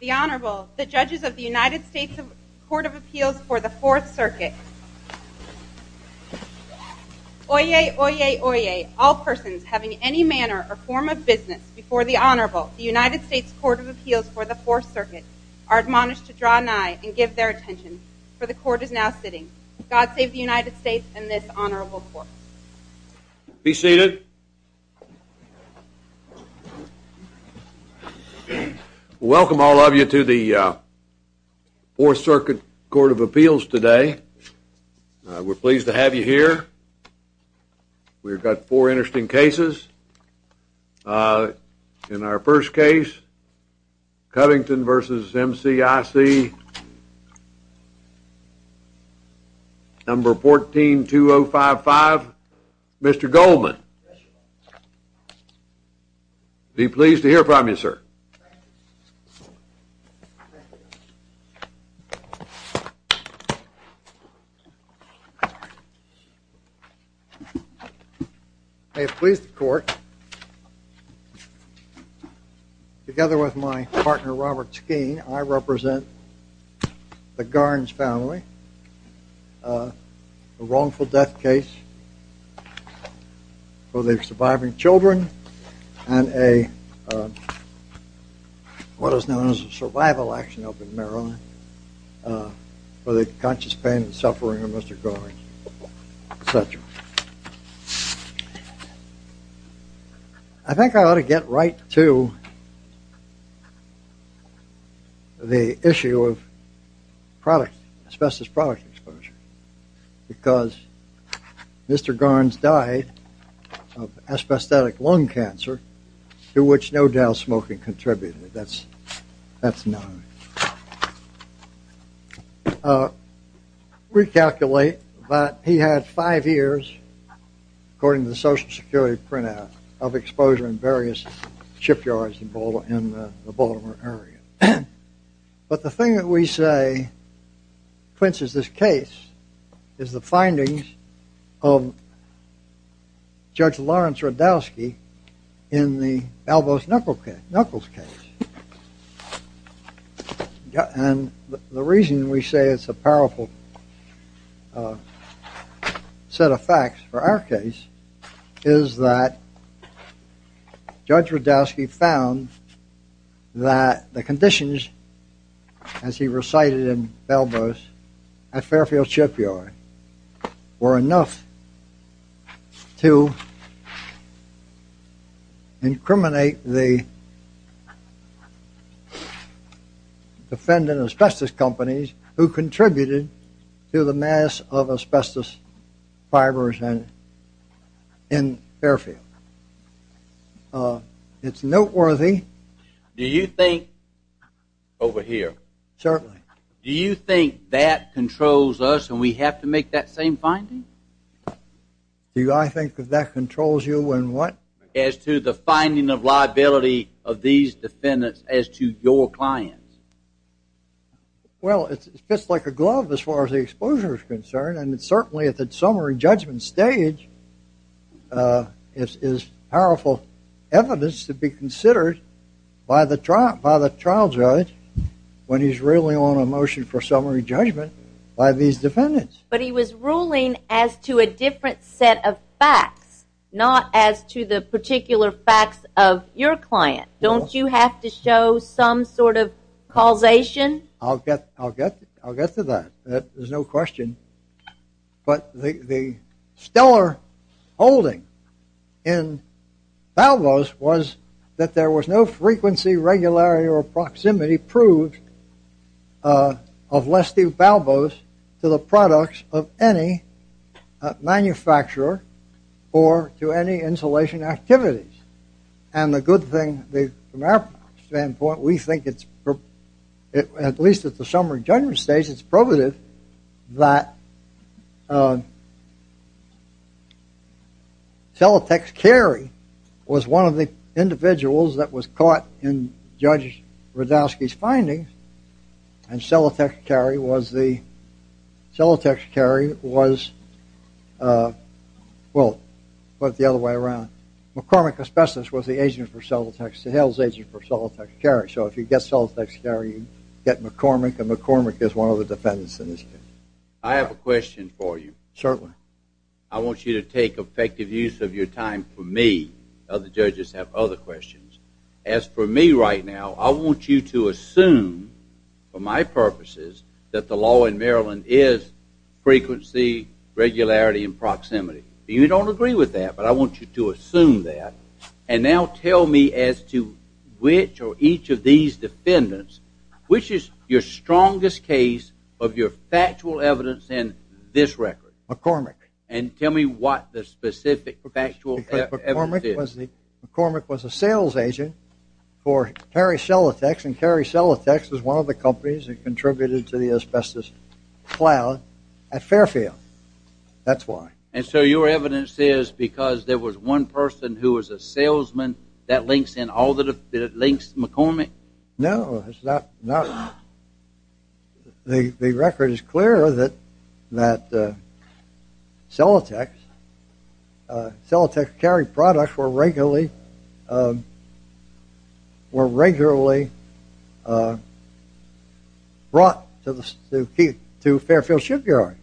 The Honorable, the judges of the United States Court of Appeals for the Fourth Circuit. Oyez, oyez, oyez, all persons having any manner or form of business before the Honorable, the United States Court of Appeals for the Fourth Circuit, are admonished to draw nigh and give their attention, for the Court is now sitting. God save the United States and this Honorable Court. Be seated. Welcome all of you to the Fourth Circuit Court of Appeals today. We're pleased to have you here. We've got four interesting cases. In our first case, Covington v. MCIC, number 142055, Mr. Goldman. Be pleased to hear from you, sir. Thank you. May it please the Court. Together with my partner, Robert Skeen, I represent the Garns family, a wrongful death case for their surviving children, and a, what is known as a survival action up in Maryland, for the conscious pain and suffering of Mr. Garns. I think I ought to get right to the issue of product, asbestos product exposure, because Mr. Garns died of asbestos lung cancer, to which no doubt smoking contributed. That's, that's known. Recalculate that he had five years, according to the Social Security printout, of exposure in various shipyards in the Baltimore area. But the thing that we say quenches this case is the findings of Judge Lawrence Rudowsky in the Albus Knuckles case. And the reason we say it's a powerful set of facts for our case is that Judge Rudowsky found that the conditions, as he recited in Albus, at Fairfield Shipyard, were enough to incriminate the defendant asbestos companies who contributed to the mass of asbestos fibers in Fairfield. It's noteworthy. Do you think, over here. Certainly. Do you think that controls us and we have to make that same finding? Do I think that that controls you in what? As to the finding of liability of these defendants as to your clients. Well, it fits like a glove as far as the exposure is concerned. And certainly at the summary judgment stage, it's powerful evidence to be considered by the trial judge when he's really on a motion for summary judgment by these defendants. But he was ruling as to a different set of facts. Not as to the particular facts of your client. Don't you have to show some sort of causation? I'll get to that. There's no question. But the stellar holding in Balbos was that there was no frequency, regularity, or proximity proved of Lestew Balbos to the products of any manufacturer or to any insulation activities. And the good thing, from our standpoint, we think it's, at least at the summary judgment stage, it's provative that Celotex Carey was one of the individuals that was caught in Judge Radowski's findings. And Celotex Carey was, well, put it the other way around. McCormick, a specialist, was the agent for Celotex, the Hales agent for Celotex Carey. So if you get Celotex Carey, you get McCormick. And McCormick is one of the defendants in this case. I have a question for you. Certainly. I want you to take effective use of your time for me. Other judges have other questions. As for me right now, I want you to assume, for my purposes, that the law in Maryland is frequency, regularity, and proximity. You don't agree with that, but I want you to assume that. And now tell me as to which or each of these defendants, which is your strongest case of your factual evidence in this record? McCormick. McCormick was a sales agent for Carey Celotex. And Carey Celotex was one of the companies that contributed to the asbestos cloud at Fairfield. That's why. And so your evidence is because there was one person who was a salesman that links McCormick? No, it's not. The record is clear that Celotex, Celotex Carey products were regularly brought to Fairfield Shipyard.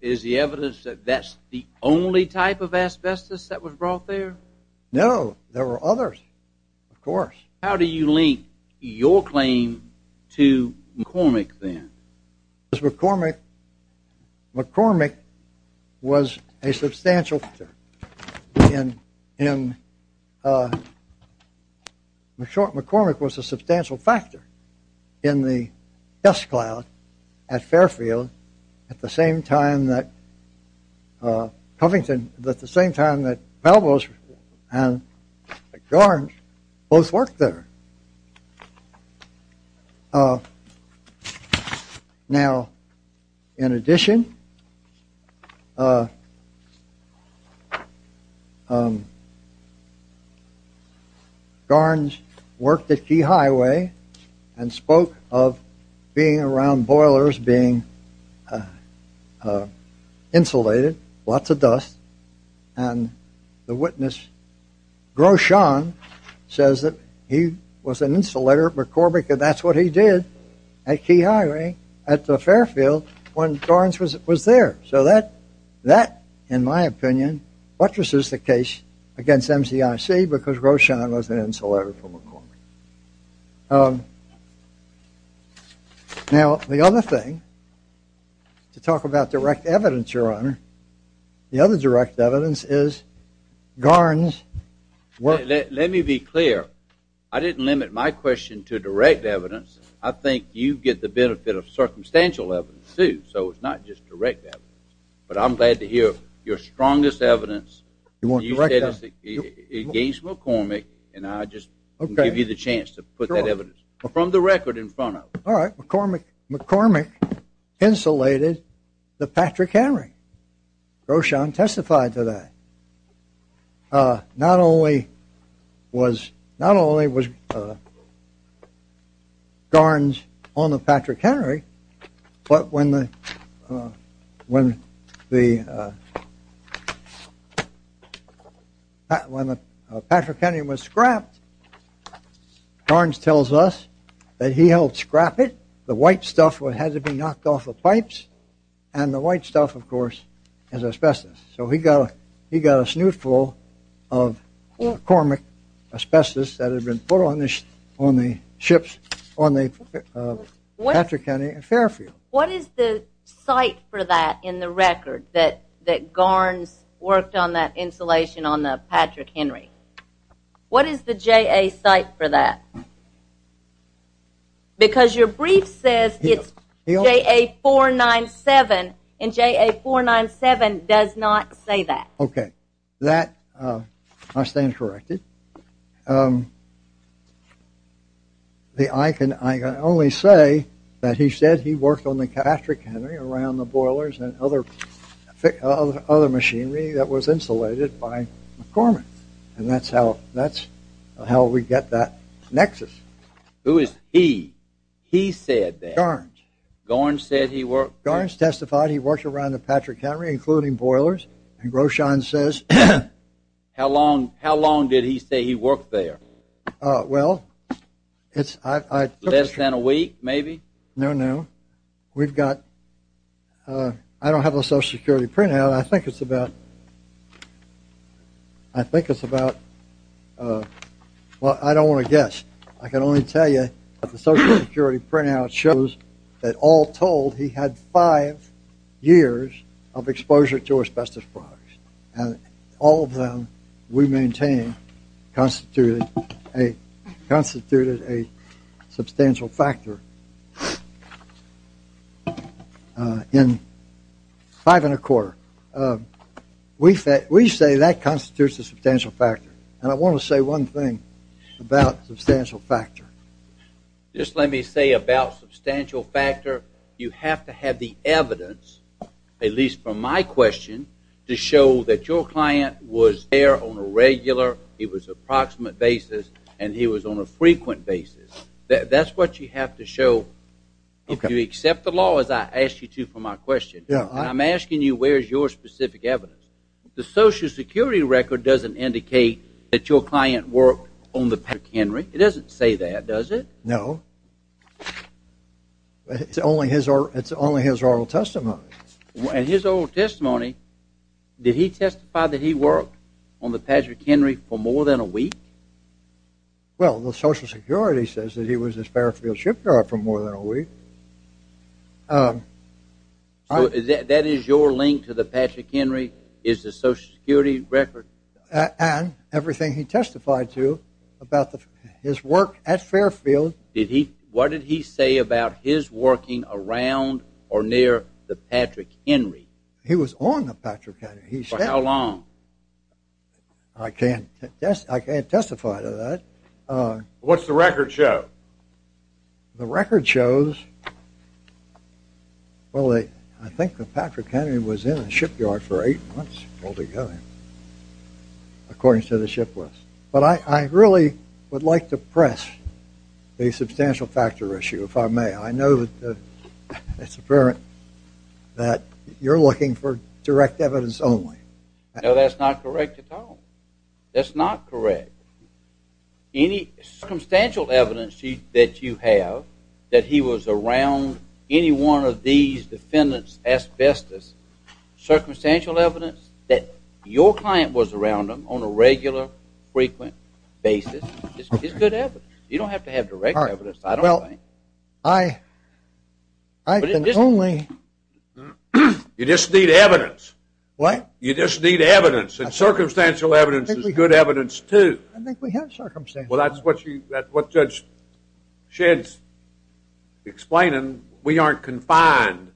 Is the evidence that that's the only type of asbestos that was brought there? No, there were others, of course. How do you link your claim to McCormick then? McCormick was a substantial factor in the test cloud at Fairfield at the same time that Covington, at the same time that Melville and Garns both worked there. Now, in addition, Garns worked at Key Highway and spoke of being around boilers being insulated, lots of dust. And the witness, Groschan, says that he was an insulator at McCormick and that's what he did at Key Highway at the Fairfield when Garns was there. So that, in my opinion, buttresses the case against MCIC because Groschan was an insulator for McCormick. Now, the other thing to talk about direct evidence, Your Honor, the other direct evidence is Garns' work. Let me be clear. I didn't limit my question to direct evidence. I think you get the benefit of circumstantial evidence, too, so it's not just direct evidence. But I'm glad to hear your strongest evidence. You said it's against McCormick, and I'll just give you the chance to put that evidence from the record in front of you. All right. McCormick insulated the Patrick Henry. Groschan testified to that. Not only was Garns on the Patrick Henry, but when the Patrick Henry was scrapped, Garns tells us that he helped scrap it. The white stuff had to be knocked off the pipes, and the white stuff, of course, is asbestos. So he got a snootful of McCormick asbestos that had been put on the ships, on the Patrick Henry and Fairfield. What is the site for that in the record, that Garns worked on that insulation on the Patrick Henry? What is the JA site for that? Because your brief says it's JA 497, and JA 497 does not say that. Okay. I stand corrected. I can only say that he said he worked on the Patrick Henry around the boilers and other machinery that was insulated by McCormick. And that's how we get that nexus. Who is he? He said that. Garns. Garns said he worked there. Garns testified he worked around the Patrick Henry, including boilers, and Groschan says... How long did he say he worked there? Well, it's... Less than a week, maybe? No, no. We've got... I don't have a Social Security printout. I think it's about... I think it's about... Well, I don't want to guess. I can only tell you that the Social Security printout shows that all told, he had five years of exposure to asbestos products. All of them we maintain constituted a substantial factor in five and a quarter. We say that constitutes a substantial factor, and I want to say one thing about substantial factor. Just let me say about substantial factor, you have to have the evidence, at least from my question, to show that your client was there on a regular, he was approximate basis, and he was on a frequent basis. That's what you have to show. If you accept the law, as I asked you to for my question, and I'm asking you where's your specific evidence. The Social Security record doesn't indicate that your client worked on the Patrick Henry. It doesn't say that, does it? No. It's only his oral testimony. In his oral testimony, did he testify that he worked on the Patrick Henry for more than a week? Well, the Social Security says that he was a Fairfield shipyard for more than a week. So that is your link to the Patrick Henry is the Social Security record? And everything he testified to about his work at Fairfield. What did he say about his working around or near the Patrick Henry? He was on the Patrick Henry. For how long? I can't testify to that. What's the record show? The record shows, well, I think the Patrick Henry was in the shipyard for eight months altogether, according to the ship list. But I really would like to press a substantial factor issue, if I may. I know that it's apparent that you're looking for direct evidence only. No, that's not correct at all. That's not correct. Any circumstantial evidence that you have that he was around any one of these defendants' asbestos, circumstantial evidence that your client was around them on a regular, frequent basis, is good evidence. You don't have to have direct evidence, I don't think. Well, I can only… You just need evidence. What? You just need evidence, and circumstantial evidence is good evidence, too. I think we have circumstantial evidence. Well, that's what Judge Shedd's explaining. We aren't confined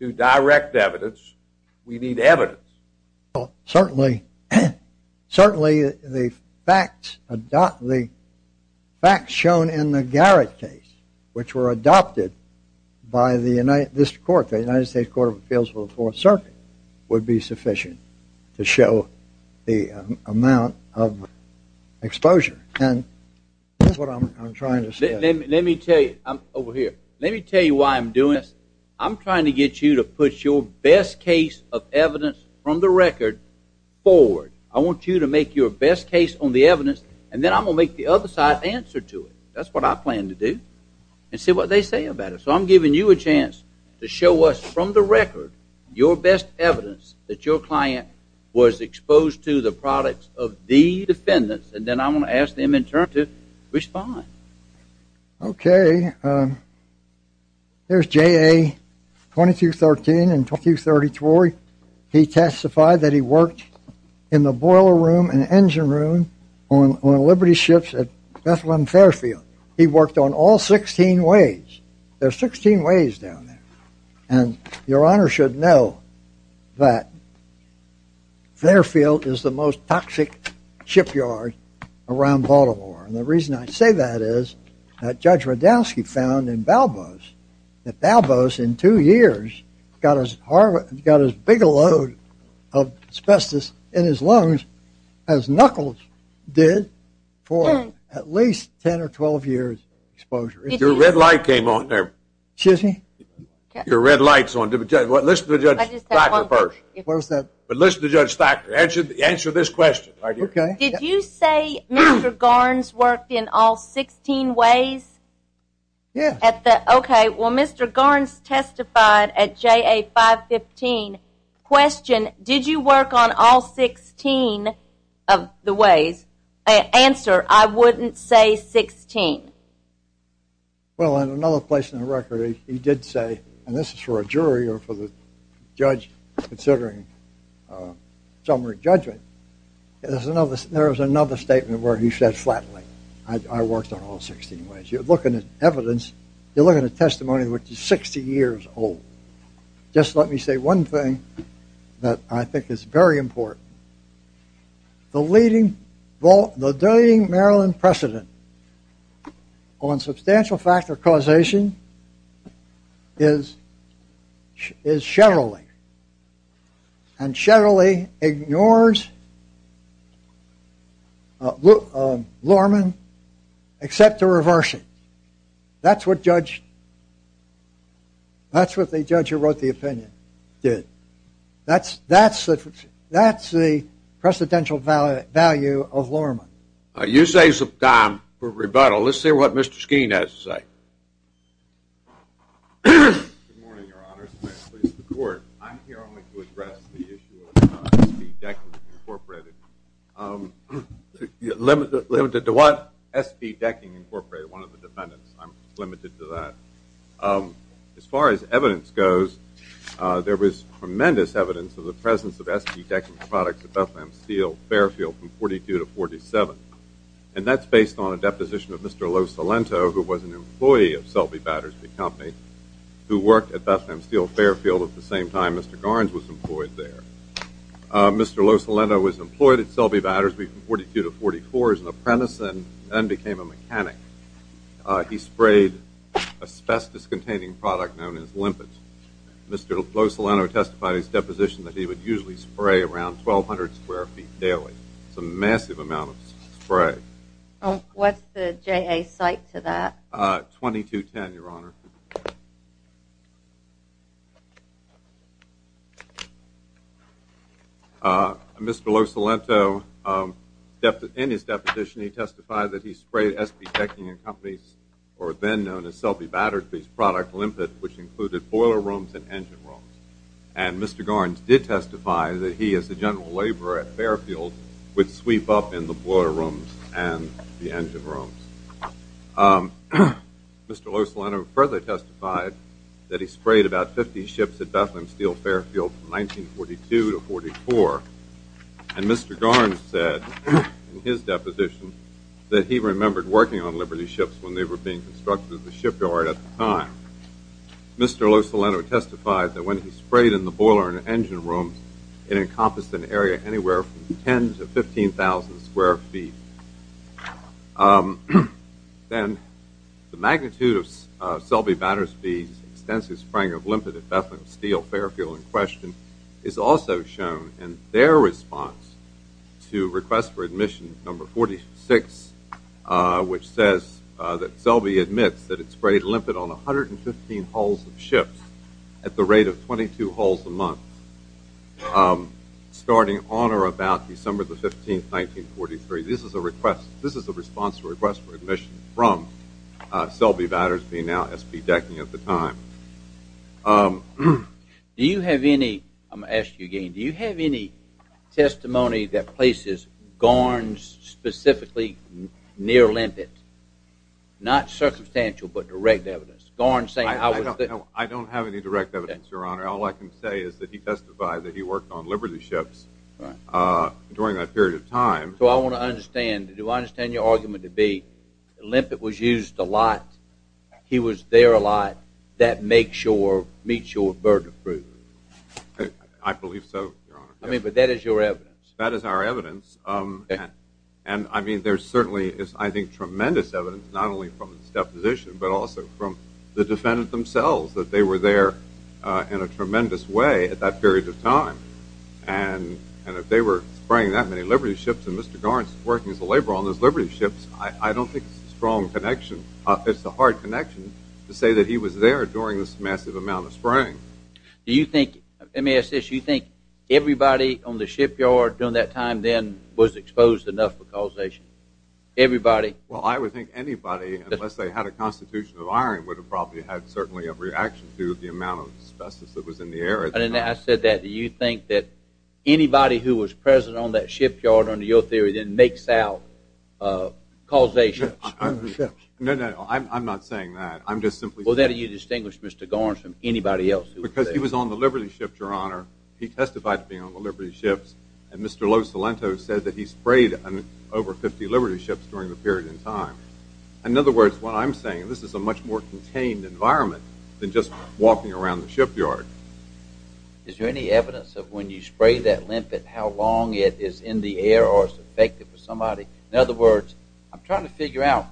to direct evidence. We need evidence. Well, certainly the facts shown in the Garrett case, which were adopted by this court, the United States Court of Appeals for the Fourth Circuit, would be sufficient to show the amount of exposure. That's what I'm trying to say. Let me tell you why I'm doing this. I'm trying to get you to put your best case of evidence from the record forward. I want you to make your best case on the evidence, and then I'm going to make the other side answer to it. That's what I plan to do, and see what they say about it. So I'm giving you a chance to show us from the record your best evidence that your client was exposed to the products of the defendants, and then I'm going to ask them in turn to respond. Okay. There's J.A. 2213 and 2234. He testified that he worked in the boiler room and engine room on Liberty Ships at Bethlehem Fairfield. He worked on all 16 ways. There are 16 ways down there. And your Honor should know that Fairfield is the most toxic shipyard around Baltimore, and the reason I say that is that Judge Radowsky found in Balboa's that Balboa's in two years got as big a load of asbestos in his lungs as Knuckles did for at least 10 or 12 years exposure. Your red light came on there. Excuse me? Your red light's on. Listen to Judge Thacker first. What was that? Listen to Judge Thacker. Answer this question right here. Did you say Mr. Garns worked in all 16 ways? Yes. Okay. Well, Mr. Garns testified at J.A. 515. Question, did you work on all 16 of the ways? Answer, I wouldn't say 16. Well, in another place in the record he did say, and this is for a jury or for the judge considering summary judgment, there was another statement where he said flatly, I worked on all 16 ways. You're looking at evidence, you're looking at testimony which is 60 years old. Just let me say one thing that I think is very important. The leading Maryland precedent on substantial factor causation is Shetterly. And Shetterly ignores Lorman except to reverse it. That's what the judge who wrote the opinion did. That's the precedential value of Lorman. You say it's time for rebuttal. Let's hear what Mr. Skeen has to say. Good morning, Your Honors. I'm here only to address the issue of SB Decking Incorporated. Limited to what? SB Decking Incorporated, one of the defendants. I'm limited to that. As far as evidence goes, there was tremendous evidence of the presence of SB Decking products at Bethlehem Steel Fairfield from 1942 to 1947. And that's based on a deposition of Mr. Losalento who was an employee of Selby Battersby Company who worked at Bethlehem Steel Fairfield at the same time Mr. Garns was employed there. Mr. Losalento was employed at Selby Battersby from 1942 to 1944 as an apprentice and then became a mechanic. He sprayed asbestos-containing product known as limpet. Mr. Losalento testified in his deposition that he would usually spray around 1,200 square feet daily. It's a massive amount of spray. What's the JA site to that? 2210, Your Honor. Thank you. Mr. Losalento, in his deposition, he testified that he sprayed SB Decking and Company's, or then known as Selby Battersby's product, limpet, which included boiler rooms and engine rooms. And Mr. Garns did testify that he, as a general laborer at Fairfield, would sweep up in the boiler rooms and the engine rooms. Mr. Losalento further testified that he sprayed about 50 ships at Bethlehem Steel Fairfield from 1942 to 1944. And Mr. Garns said in his deposition that he remembered working on Liberty ships when they were being constructed at the shipyard at the time. Mr. Losalento testified that when he sprayed in the boiler and engine rooms, it encompassed an area anywhere from 10,000 to 15,000 square feet. Then the magnitude of Selby Battersby's extensive spraying of limpet at Bethlehem Steel Fairfield in question is also shown in their response to request for admission number 46, which says that Selby admits that it sprayed limpet on 115 hulls of ships at the rate of 22 hulls a month, starting on or about December 15, 1943. This is a response to request for admission from Selby Battersby, now SB Decking at the time. Do you have any, I'm going to ask you again, do you have any testimony that places Garns specifically near limpet? Not circumstantial, but direct evidence. Garns saying, I don't have any direct evidence, Your Honor. All I can say is that he testified that he worked on Liberty ships during that period of time. So I want to understand, do I understand your argument to be limpet was used a lot, he was there a lot, that makes your, meets your burden of proof? I believe so, Your Honor. I mean, but that is your evidence. That is our evidence, and I mean, there certainly is, I think, tremendous evidence, not only from his deposition, but also from the defendant themselves, that they were there in a tremendous way at that period of time. And if they were spraying that many Liberty ships, and Mr. Garns is working as a laborer on those Liberty ships, I don't think it's a strong connection. It's a hard connection to say that he was there during this massive amount of spraying. Do you think, let me ask this, do you think everybody on the shipyard during that time then was exposed enough for causation? Everybody? Well, I would think anybody, unless they had a constitution of iron, would have probably had certainly a reaction to the amount of asbestos that was in the air. I said that, do you think that anybody who was present on that shipyard, under your theory, then makes out causation? No, no, I'm not saying that. Well, then you distinguish Mr. Garns from anybody else who was there. Because he was on the Liberty ship, Your Honor. He testified to being on the Liberty ships, and Mr. Losalento said that he sprayed over 50 Liberty ships during the period in time. In other words, what I'm saying, this is a much more contained environment than just walking around the shipyard. Is there any evidence of when you spray that limpet, how long it is in the air or is it effective for somebody? In other words, I'm trying to figure out,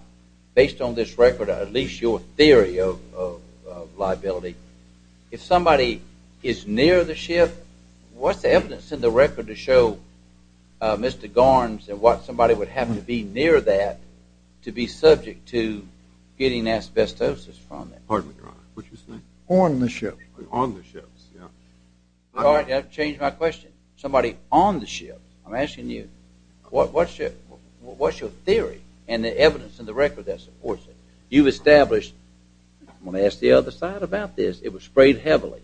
based on this record, or at least your theory of liability, if somebody is near the ship, what's the evidence in the record to show Mr. Garns and what somebody would have to be near that to be subject to getting asbestosis from it? Pardon me, Your Honor, what did you say? On the ship. On the ships, yeah. All right, that changed my question. Somebody on the ship. I'm asking you, what's your theory and the evidence in the record that supports it? You've established, I'm going to ask the other side about this, it was sprayed heavily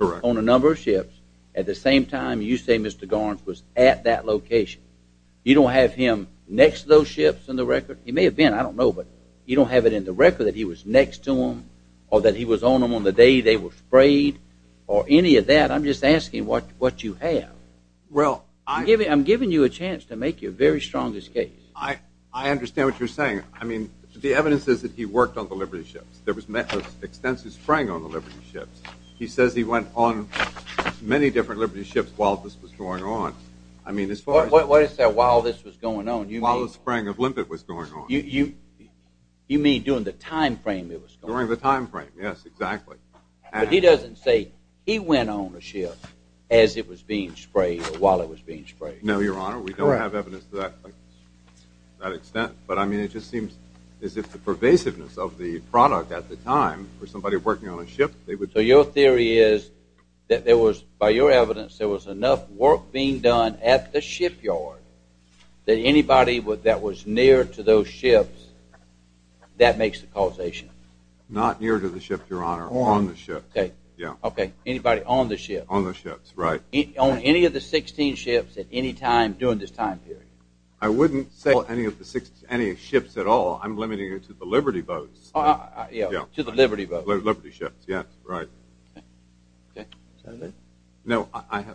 on a number of ships at the same time you say Mr. Garns was at that location. You don't have him next to those ships in the record? He may have been, I don't know, but you don't have it in the record that he was next to them or that he was on them on the day they were sprayed or any of that. I'm just asking what you have. I'm giving you a chance to make your very strongest case. I understand what you're saying. The evidence is that he worked on the Liberty ships. There was extensive spraying on the Liberty ships. He says he went on many different Liberty ships while this was going on. What do you say, while this was going on? While the spraying of limpet was going on. You mean during the time frame it was going on? During the time frame, yes, exactly. But he doesn't say he went on a ship as it was being sprayed or while it was being sprayed. No, Your Honor, we don't have evidence to that extent, but it just seems as if the pervasiveness of the product at the time for somebody working on a ship. So your theory is that there was, by your evidence, there was enough work being done at the shipyard that anybody that was near to those ships, that makes the causation? Not near to the ships, Your Honor, on the ships. Okay, anybody on the ships? On the ships, right. On any of the 16 ships at any time during this time period? I wouldn't say any of the ships at all. I'm limiting it to the Liberty boats. To the Liberty boats? Liberty ships, yes, right. Senator?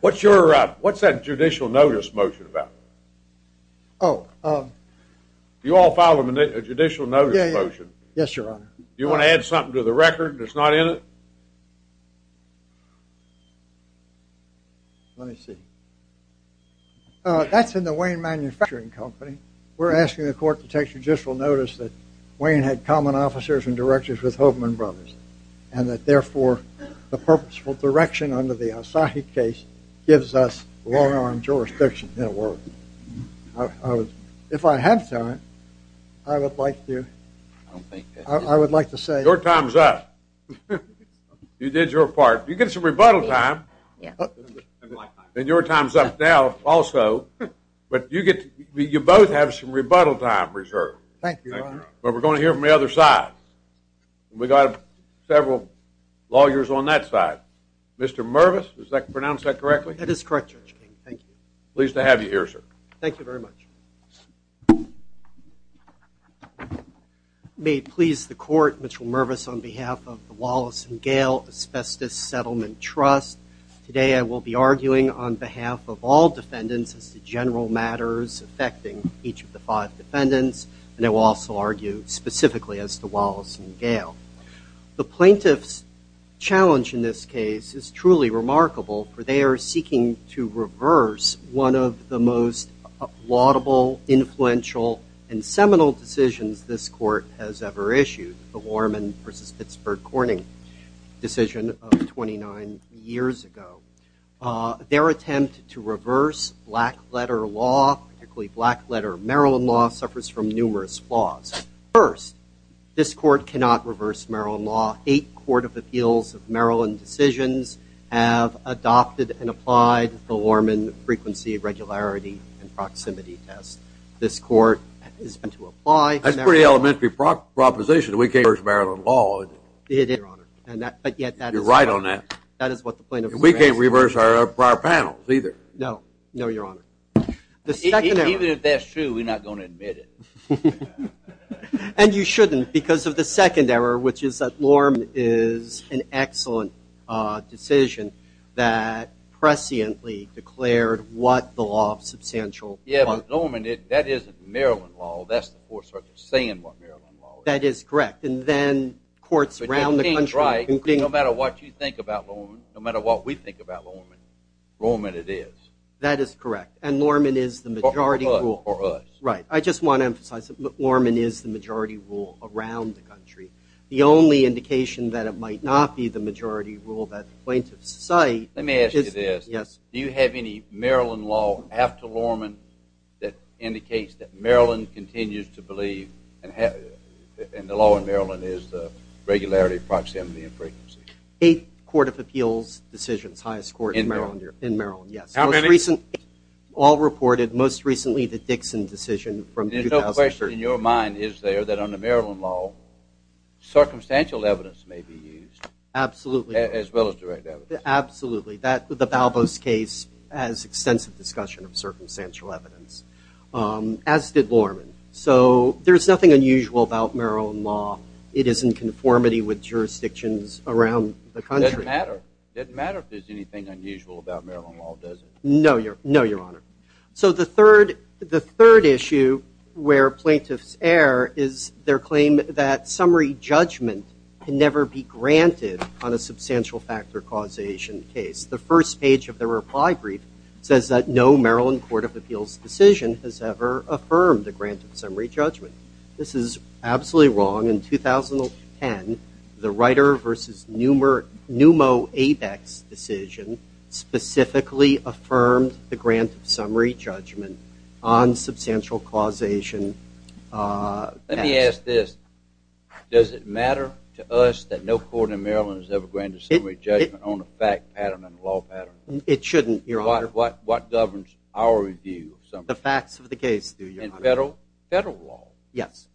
What's that judicial notice motion about? Oh. You all filed a judicial notice motion? Yes, Your Honor. You want to add something to the record that's not in it? Let me see. That's in the Wayne Manufacturing Company. We're asking the court to take judicial notice that Wayne had common officers and directors with Hoffman Brothers, and that therefore the purposeful direction under the Asahi case gives us long-arm jurisdiction in the world. If I have time, I would like to say. Your time's up. You did your part. You get some rebuttal time. And your time's up now also. But you both have some rebuttal time reserved. Thank you, Your Honor. But we're going to hear from the other side. We've got several lawyers on that side. Mr. Mervis, did I pronounce that correctly? That is correct, Judge King. Thank you. Pleased to have you here, sir. Thank you very much. May it please the court, Mr. Mervis, on behalf of the Wallace and Gale Asbestos Settlement Trust, today I will be arguing on behalf of all defendants as to general matters affecting each of the five defendants, and I will also argue specifically as to Wallace and Gale. The plaintiff's challenge in this case is truly remarkable, for they are seeking to reverse one of the most laudable, influential, and seminal decisions this court has ever issued, the Warman v. Pittsburgh Corning decision of 29 years ago. Their attempt to reverse black-letter law, particularly black-letter Maryland law, suffers from numerous flaws. First, this court cannot reverse Maryland law. Eight Court of Appeals of Maryland decisions have adopted and applied the Warman frequency, regularity, and proximity test. This court is going to apply. That's a pretty elementary proposition. We can't reverse Maryland law, is it? It is, Your Honor. You're right on that. We can't reverse our prior panels either. No, Your Honor. Even if that's true, we're not going to admit it. And you shouldn't, because of the second error, which is that Warman is an excellent decision that presciently declared what the law of substantial... Yeah, but Warman, that isn't Maryland law. That's the Fourth Circuit saying what Maryland law is. That is correct. And then courts around the country... But you came right. No matter what you think about Warman, no matter what we think about Warman, Warman it is. That is correct. And Warman is the majority rule. For us. Right. I just want to emphasize that Warman is the majority rule around the country. The only indication that it might not be the majority rule that plaintiffs cite is... Let me ask you this. Yes. Do you have any Maryland law after Warman that indicates that Maryland continues to believe, and the law in Maryland is the regularity, proximity, and frequency? Eight Court of Appeals decisions, highest court in Maryland. Yes. How many? All reported. Most recently the Dixon decision from 2013. There's no question in your mind, is there, that under Maryland law circumstantial evidence may be used? Absolutely. As well as direct evidence. Absolutely. The Balbos case has extensive discussion of circumstantial evidence, as did Warman. So there's nothing unusual about Maryland law. It is in conformity with jurisdictions around the country. It doesn't matter. It doesn't matter if there's anything unusual about Maryland law, does it? No, Your Honor. So the third issue where plaintiffs err is their claim that summary judgment can never be granted on a substantial factor causation case. The first page of their reply brief says that no Maryland Court of Appeals decision has ever affirmed a granted summary judgment. This is absolutely wrong. In 2010, the Reiter v. Numo ABEX decision specifically affirmed the grant of summary judgment on substantial causation. Let me ask this. Does it matter to us that no court in Maryland has ever granted summary judgment on a fact pattern and a law pattern? It shouldn't, Your Honor. What governs our review of summary judgment? The facts of the case do, Your Honor. And federal law? Yes.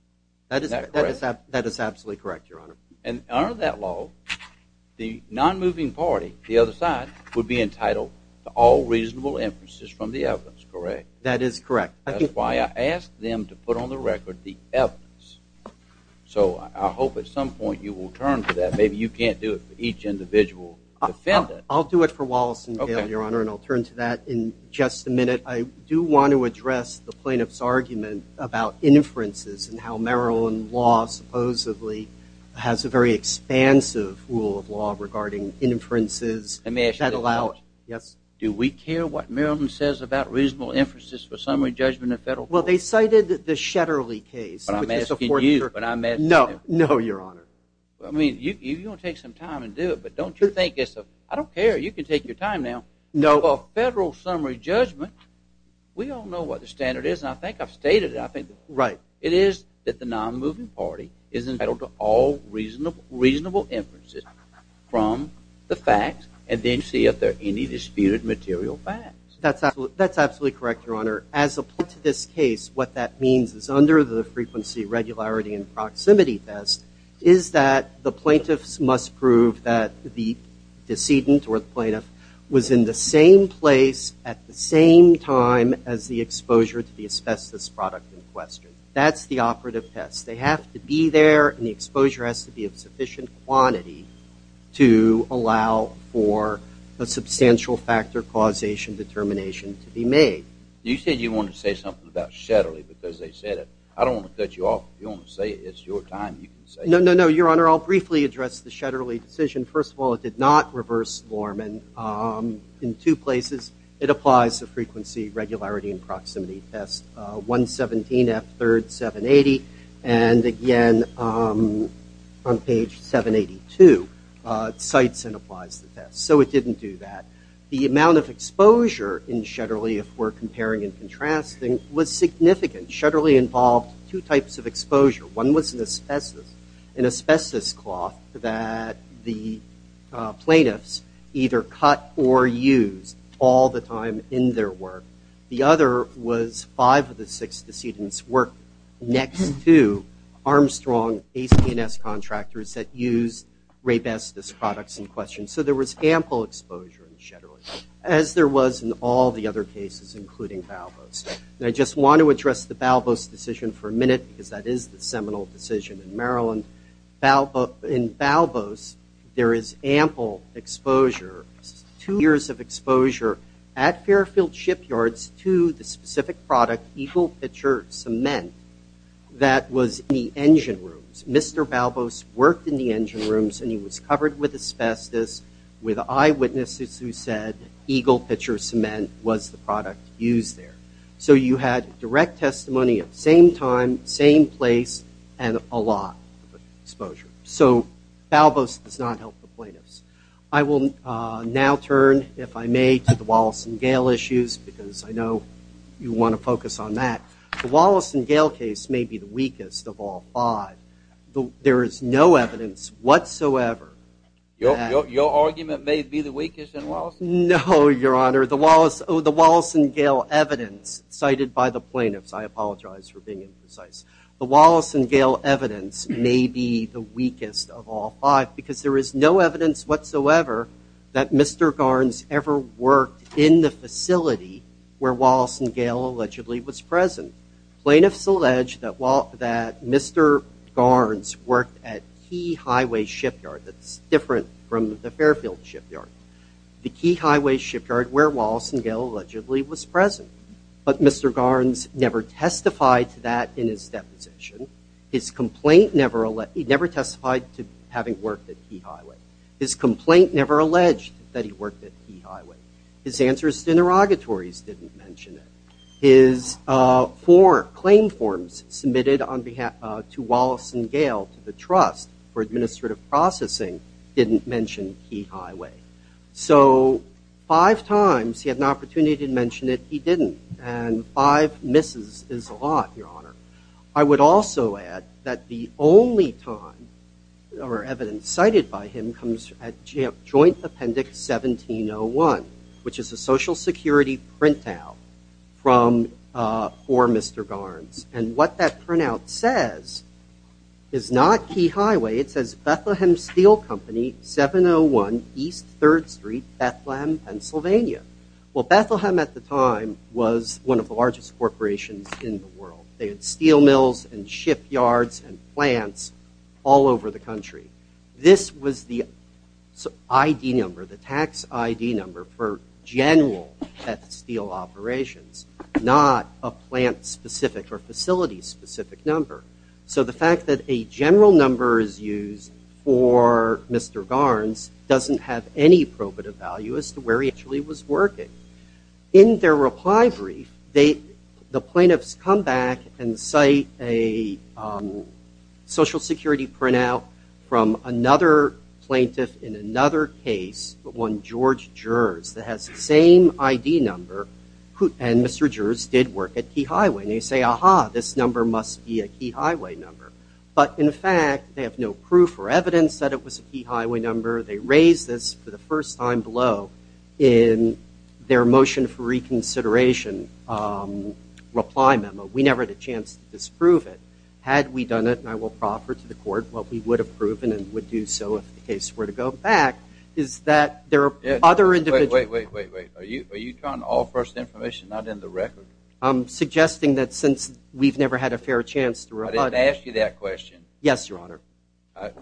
That is absolutely correct, Your Honor. And under that law, the non-moving party, the other side, would be entitled to all reasonable inferences from the evidence, correct? That is correct. That's why I asked them to put on the record the evidence. So I hope at some point you will turn to that. Maybe you can't do it for each individual defendant. I'll do it for Wallace and Gale, Your Honor, and I'll turn to that in just a minute. I do want to address the plaintiff's argument about inferences and how Maryland law supposedly has a very expansive rule of law regarding inferences. Do we care what Maryland says about reasonable inferences for summary judgment in federal court? Well, they cited the Shetterly case. But I'm asking you. No, no, Your Honor. I mean, you're going to take some time and do it, but don't you think it's a – I don't care. You can take your time now. No. Well, federal summary judgment, we all know what the standard is, and I think I've stated it. Right. It is that the non-moving party is entitled to all reasonable inferences from the facts and then see if there are any disputed material facts. That's absolutely correct, Your Honor. As opposed to this case, what that means is under the frequency, regularity, and proximity test is that the plaintiffs must prove that the decedent or the plaintiff was in the same place at the same time as the exposure to the asbestos product in question. That's the operative test. They have to be there, and the exposure has to be of sufficient quantity to allow for a substantial factor causation determination to be made. You said you wanted to say something about Shetterly because they said it. I don't want to cut you off. If you want to say it, it's your time. No, no, no, Your Honor. I'll briefly address the Shetterly decision. First of all, it did not reverse Lorman in two places. It applies the frequency, regularity, and proximity test. 117 F 3rd 780, and again on page 782, cites and applies the test. So it didn't do that. The amount of exposure in Shetterly, if we're comparing and contrasting, Shetterly involved two types of exposure. One was an asbestos cloth that the plaintiffs either cut or used all the time in their work. The other was five of the six decedents worked next to Armstrong ACNS contractors that used Raybestos products in question. So there was ample exposure in Shetterly, as there was in all the other cases, including Balboa's. And I just want to address the Balboa's decision for a minute because that is the seminal decision in Maryland. In Balboa's, there is ample exposure, two years of exposure, at Fairfield Shipyards to the specific product Eagle Pitcher Cement that was in the engine rooms. Mr. Balboa's worked in the engine rooms, and he was covered with asbestos with eyewitnesses who said Eagle Pitcher Cement was the product used there. So you had direct testimony at the same time, same place, and a lot of exposure. So Balboa's does not help the plaintiffs. I will now turn, if I may, to the Wallace and Gale issues because I know you want to focus on that. The Wallace and Gale case may be the weakest of all five. There is no evidence whatsoever that... Your argument may be the weakest in Wallace and Gale? No, Your Honor. The Wallace and Gale evidence cited by the plaintiffs, I apologize for being imprecise, the Wallace and Gale evidence may be the weakest of all five because there is no evidence whatsoever that Mr. Garns ever worked in the facility where Wallace and Gale allegedly was present. Plaintiffs allege that Mr. Garns worked at Key Highway Shipyard. That's different from the Fairfield Shipyard. The Key Highway Shipyard where Wallace and Gale allegedly was present. But Mr. Garns never testified to that in his deposition. His complaint never... He never testified to having worked at Key Highway. His complaint never alleged that he worked at Key Highway. His answers to interrogatories didn't mention it. His four claim forms submitted to Wallace and Gale to the Trust for Administrative Processing didn't mention Key Highway. So five times he had an opportunity to mention it, he didn't. And five misses is a lot, Your Honor. I would also add that the only time evidence cited by him comes at Joint Appendix 1701, which is a Social Security printout for Mr. Garns. And what that printout says is not Key Highway. It says Bethlehem Steel Company, 701 East 3rd Street, Bethlehem, Pennsylvania. Well, Bethlehem at the time was one of the largest corporations in the world. They had steel mills and shipyards and plants all over the country. This was the ID number, the tax ID number for general steel operations, not a plant-specific or facility-specific number. So the fact that a general number is used for Mr. Garns doesn't have any probative value as to where he actually was working. In their reply brief, the plaintiffs come back and cite a Social Security printout from another plaintiff in another case, but one George Gers, that has the same ID number, and Mr. Gers did work at Key Highway. And they say, aha, this number must be a Key Highway number. But in fact, they have no proof or evidence that it was a Key Highway number. They raise this for the first time below in their motion for reconsideration reply memo. We never had a chance to disprove it. Had we done it, and I will proffer to the court what we would have proven and would do so if the case were to go back, is that there are other individuals. Wait, wait, wait, wait. Are you trying all first information, not in the record? I'm suggesting that since we've never had a fair chance to reply. I didn't ask you that question. Yes, Your Honor.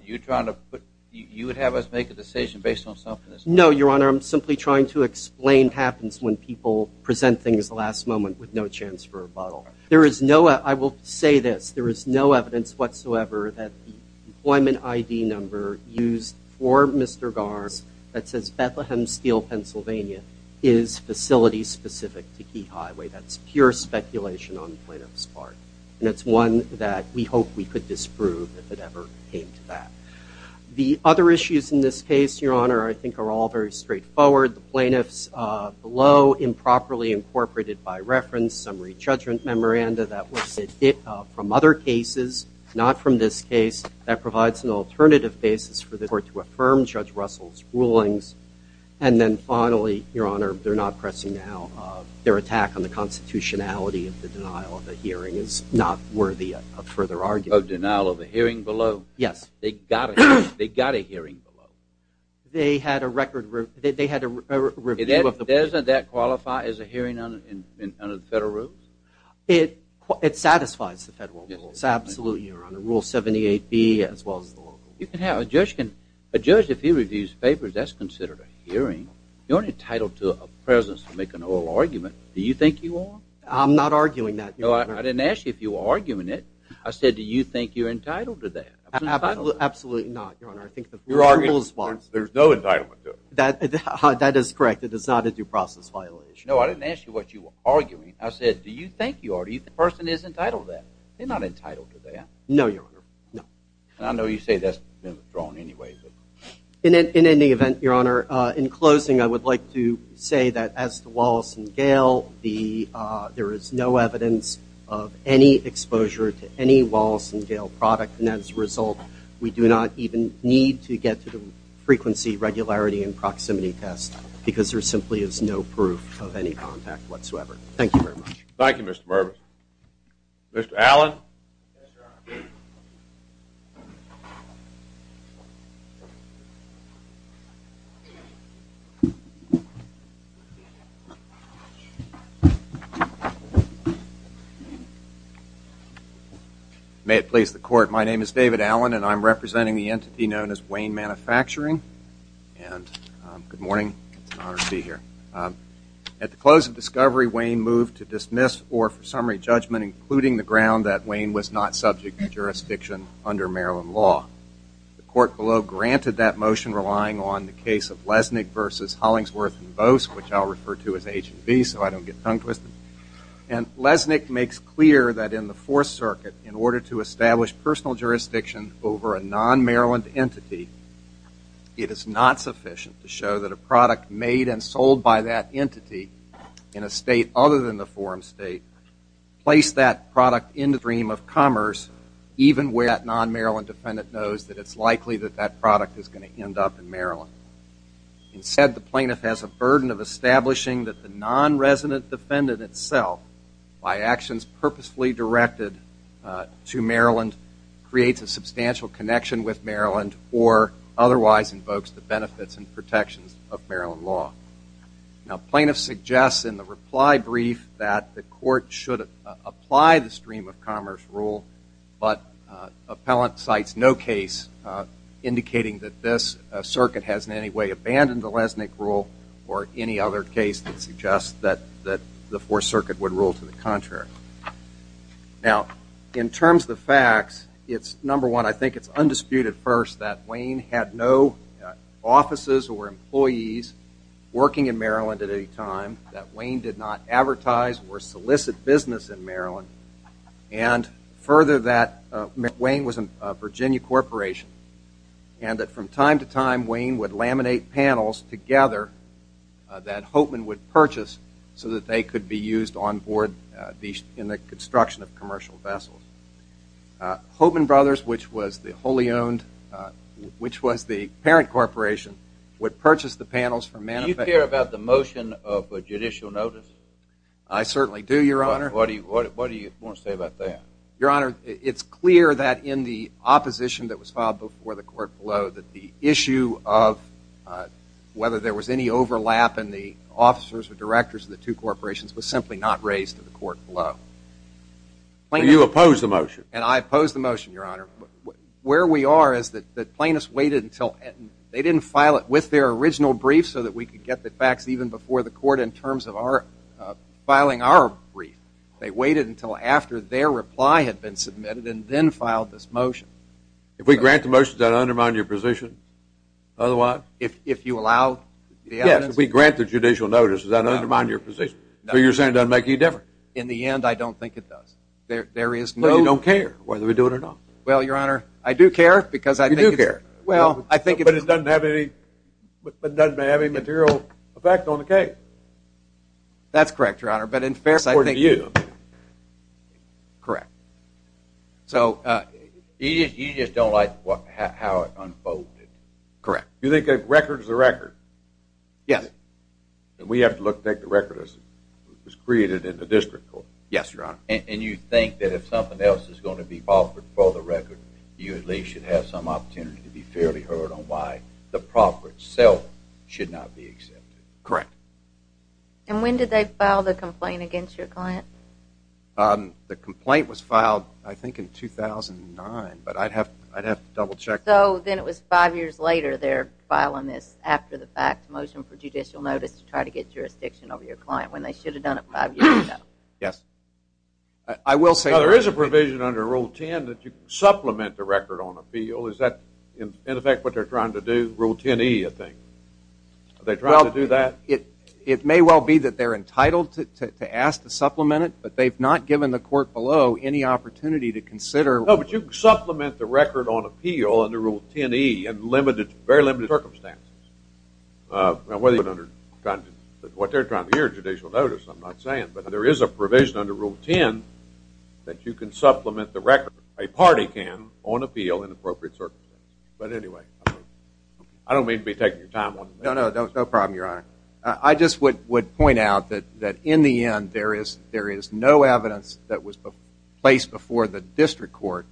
You're trying to put, you would have us make a decision based on something that's not true? No, Your Honor. I'm simply trying to explain what happens when people present things at the last moment with no chance for a rebuttal. There is no, I will say this, there is no evidence whatsoever that the employment ID number used for Mr. Garns that says Bethlehem Steel, Pennsylvania, is facility-specific to Key Highway. That's pure speculation on the plaintiff's part, and it's one that we hope we could disprove if it ever came to that. The other issues in this case, Your Honor, I think are all very straightforward. The plaintiff's below improperly incorporated by reference summary judgment memoranda that was submitted from other cases, not from this case, and then finally, Your Honor, they're not pressing now. Their attack on the constitutionality of the denial of a hearing is not worthy of further argument. A denial of a hearing below? Yes. They got a hearing below? They had a record review. Doesn't that qualify as a hearing under the federal rules? It satisfies the federal rules, absolutely, Your Honor. Rule 78B as well as the local rules. A judge, if he reviews papers, that's considered a hearing. You're entitled to a presence to make an oral argument. Do you think you are? I'm not arguing that, Your Honor. I didn't ask you if you were arguing it. I said, do you think you're entitled to that? Absolutely not, Your Honor. There's no entitlement to it. That is correct. It is not a due process violation. No, I didn't ask you what you were arguing. I said, do you think you are? The person is entitled to that. They're not entitled to that. No, Your Honor, no. And I know you say that's been withdrawn anyway. In any event, Your Honor, in closing I would like to say that as to Wallace and Gale, there is no evidence of any exposure to any Wallace and Gale product, and as a result we do not even need to get to the frequency, regularity, and proximity test because there simply is no proof of any contact whatsoever. Thank you very much. Thank you, Mr. Mervis. Mr. Allen? Yes, Your Honor. May it please the Court, my name is David Allen and I'm representing the entity known as Wayne Manufacturing. And good morning. It's an honor to be here. At the close of discovery, or for summary judgment, including the ground that Wayne was not subject to jurisdiction under Maryland law. The Court below granted that motion relying on the case of Lesnick versus Hollingsworth and Bose, which I'll refer to as H&B so I don't get tongue twisted. And Lesnick makes clear that in the Fourth Circuit, in order to establish personal jurisdiction over a non-Maryland entity, it is not sufficient to show that a product made and sold by that entity in a state other than the forum state, place that product in the stream of commerce even where that non-Maryland defendant knows that it's likely that that product is going to end up in Maryland. Instead, the plaintiff has a burden of establishing that the non-resident defendant itself, by actions purposefully directed to Maryland, creates a substantial connection with Maryland or otherwise invokes the benefits and protections of Maryland law. Now, plaintiffs suggest in the reply brief that the Court should apply the stream of commerce rule, but appellant cites no case indicating that this circuit has in any way abandoned the Lesnick rule or any other case that suggests that the Fourth Circuit would rule to the contrary. Now, in terms of the facts, it's, number one, I think it's undisputed first that Wayne had no offices or employees working in Maryland at any time, that Wayne did not advertise or solicit business in Maryland, and further that Wayne was a Virginia corporation, and that from time to time Wayne would laminate panels together that Hopeman would purchase so that they could be used on board in the construction of commercial vessels. Hopeman Brothers, which was the parent corporation, would purchase the panels for manufacturing. Do you care about the motion of a judicial notice? I certainly do, Your Honor. What do you want to say about that? Your Honor, it's clear that in the opposition that was filed before the court below that the issue of whether there was any overlap in the officers or directors of the two corporations was simply not raised to the court below. So you oppose the motion? And I oppose the motion, Your Honor. Where we are is that Plaintiffs waited until, they didn't file it with their original brief so that we could get the facts even before the court in terms of filing our brief. They waited until after their reply had been submitted and then filed this motion. If we grant the motion, does that undermine your position? Otherwise? If you allow the evidence? Yes, if we grant the judicial notice, does that undermine your position? No. So you're saying it doesn't make any difference? In the end, I don't think it does. So you don't care whether we do it or not? Well, Your Honor, I do care because I think it's... You do care. But it doesn't have any material effect on the case. That's correct, Your Honor. But in fairness, I think... It's important to you. Correct. You just don't like how it unfolded. Correct. You think the record is the record? Yes. We have to take the record as it was created in the district court. Yes, Your Honor. And you think that if something else is going to be offered for the record, you at least should have some opportunity to be fairly heard on why the property itself should not be accepted. Correct. And when did they file the complaint against your client? The complaint was filed, I think, in 2009. But I'd have to double-check. So then it was five years later they're filing this after the fact motion for judicial notice to try to get jurisdiction over your client when they should have done it five years ago. Yes. I will say... Now, there is a provision under Rule 10 that you supplement the record on appeal. Is that, in effect, what they're trying to do? Rule 10E, I think. Are they trying to do that? It may well be that they're entitled to ask to supplement it, but they've not given the court below any opportunity to consider... No, but you can supplement the record on appeal under Rule 10E in very limited circumstances. Now, what they're trying to do is judicial notice, I'm not saying. But there is a provision under Rule 10 that you can supplement the record, a party can, on appeal in appropriate circumstances. But anyway, I don't mean to be taking your time. No, no, no problem, Your Honor. I just would point out that, in the end, there is no evidence that was placed before the district court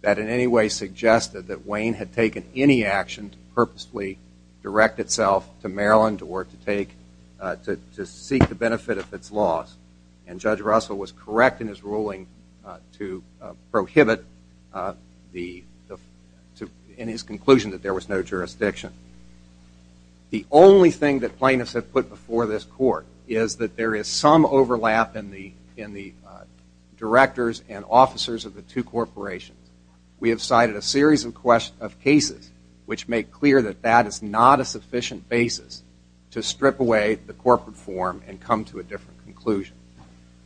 that in any way suggested that Wayne had taken any action to purposely direct itself to Maryland or to seek the benefit of its laws. And Judge Russell was correct in his ruling to prohibit, in his conclusion, that there was no jurisdiction. The only thing that plaintiffs have put before this court is that there is some overlap in the directors and officers of the two corporations. We have cited a series of cases which make clear that that is not a sufficient basis to strip away the corporate form and come to a different conclusion.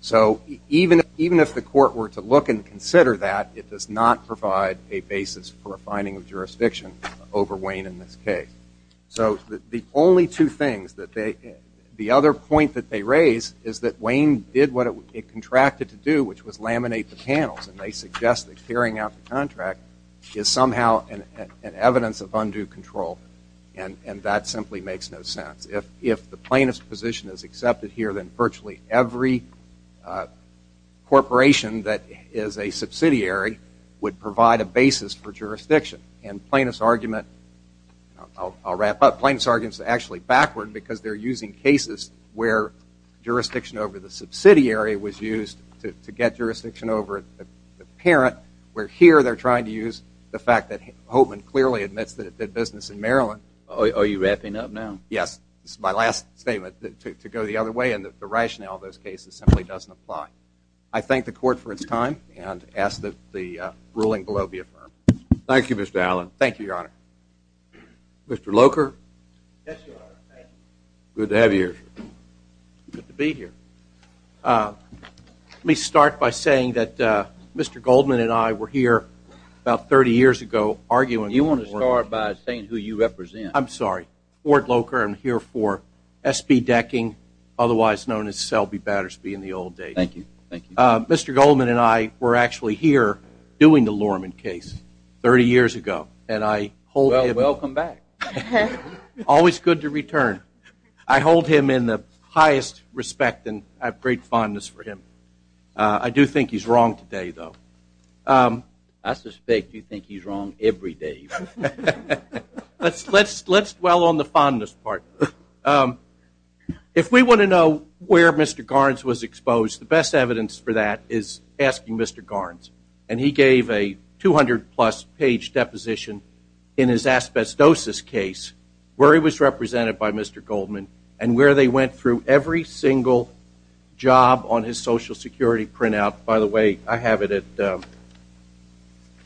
So even if the court were to look and consider that, it does not provide a basis for a finding of jurisdiction over Wayne in this case. So the only two things that they – the other point that they raise is that Wayne did what it contracted to do, which was laminate the panels. And they suggest that clearing out the contract is somehow an evidence of undue control. And that simply makes no sense. If the plaintiff's position is accepted here, then virtually every corporation that is a subsidiary would provide a basis for jurisdiction. And plaintiff's argument – I'll wrap up. Plaintiff's argument is actually backward because they're using cases where jurisdiction over the subsidiary was used to get jurisdiction over the parent, where here they're trying to use the fact that Holtman clearly admits that it did business in Maryland. Are you wrapping up now? Yes. This is my last statement to go the other way, and the rationale of those cases simply doesn't apply. I thank the court for its time and ask that the ruling below be affirmed. Thank you, Mr. Allen. Thank you, Your Honor. Mr. Locher? Yes, Your Honor. Good to have you here. Good to be here. Let me start by saying that Mr. Goldman and I were here about 30 years ago arguing – You want to start by saying who you represent. I'm sorry. Ward Locher. I'm here for SB Decking, otherwise known as Selby Battersby in the old days. Thank you. Mr. Goldman and I were actually here doing the Lorman case 30 years ago, and I hold him – Well, welcome back. Always good to return. I hold him in the highest respect, and I have great fondness for him. I do think he's wrong today, though. I suspect you think he's wrong every day. Let's dwell on the fondness part. If we want to know where Mr. Garns was exposed, the best evidence for that is asking Mr. Garns. And he gave a 200-plus page deposition in his asbestosis case where he was represented by Mr. Goldman and where they went through every single job on his Social Security printout. By the way, I have it at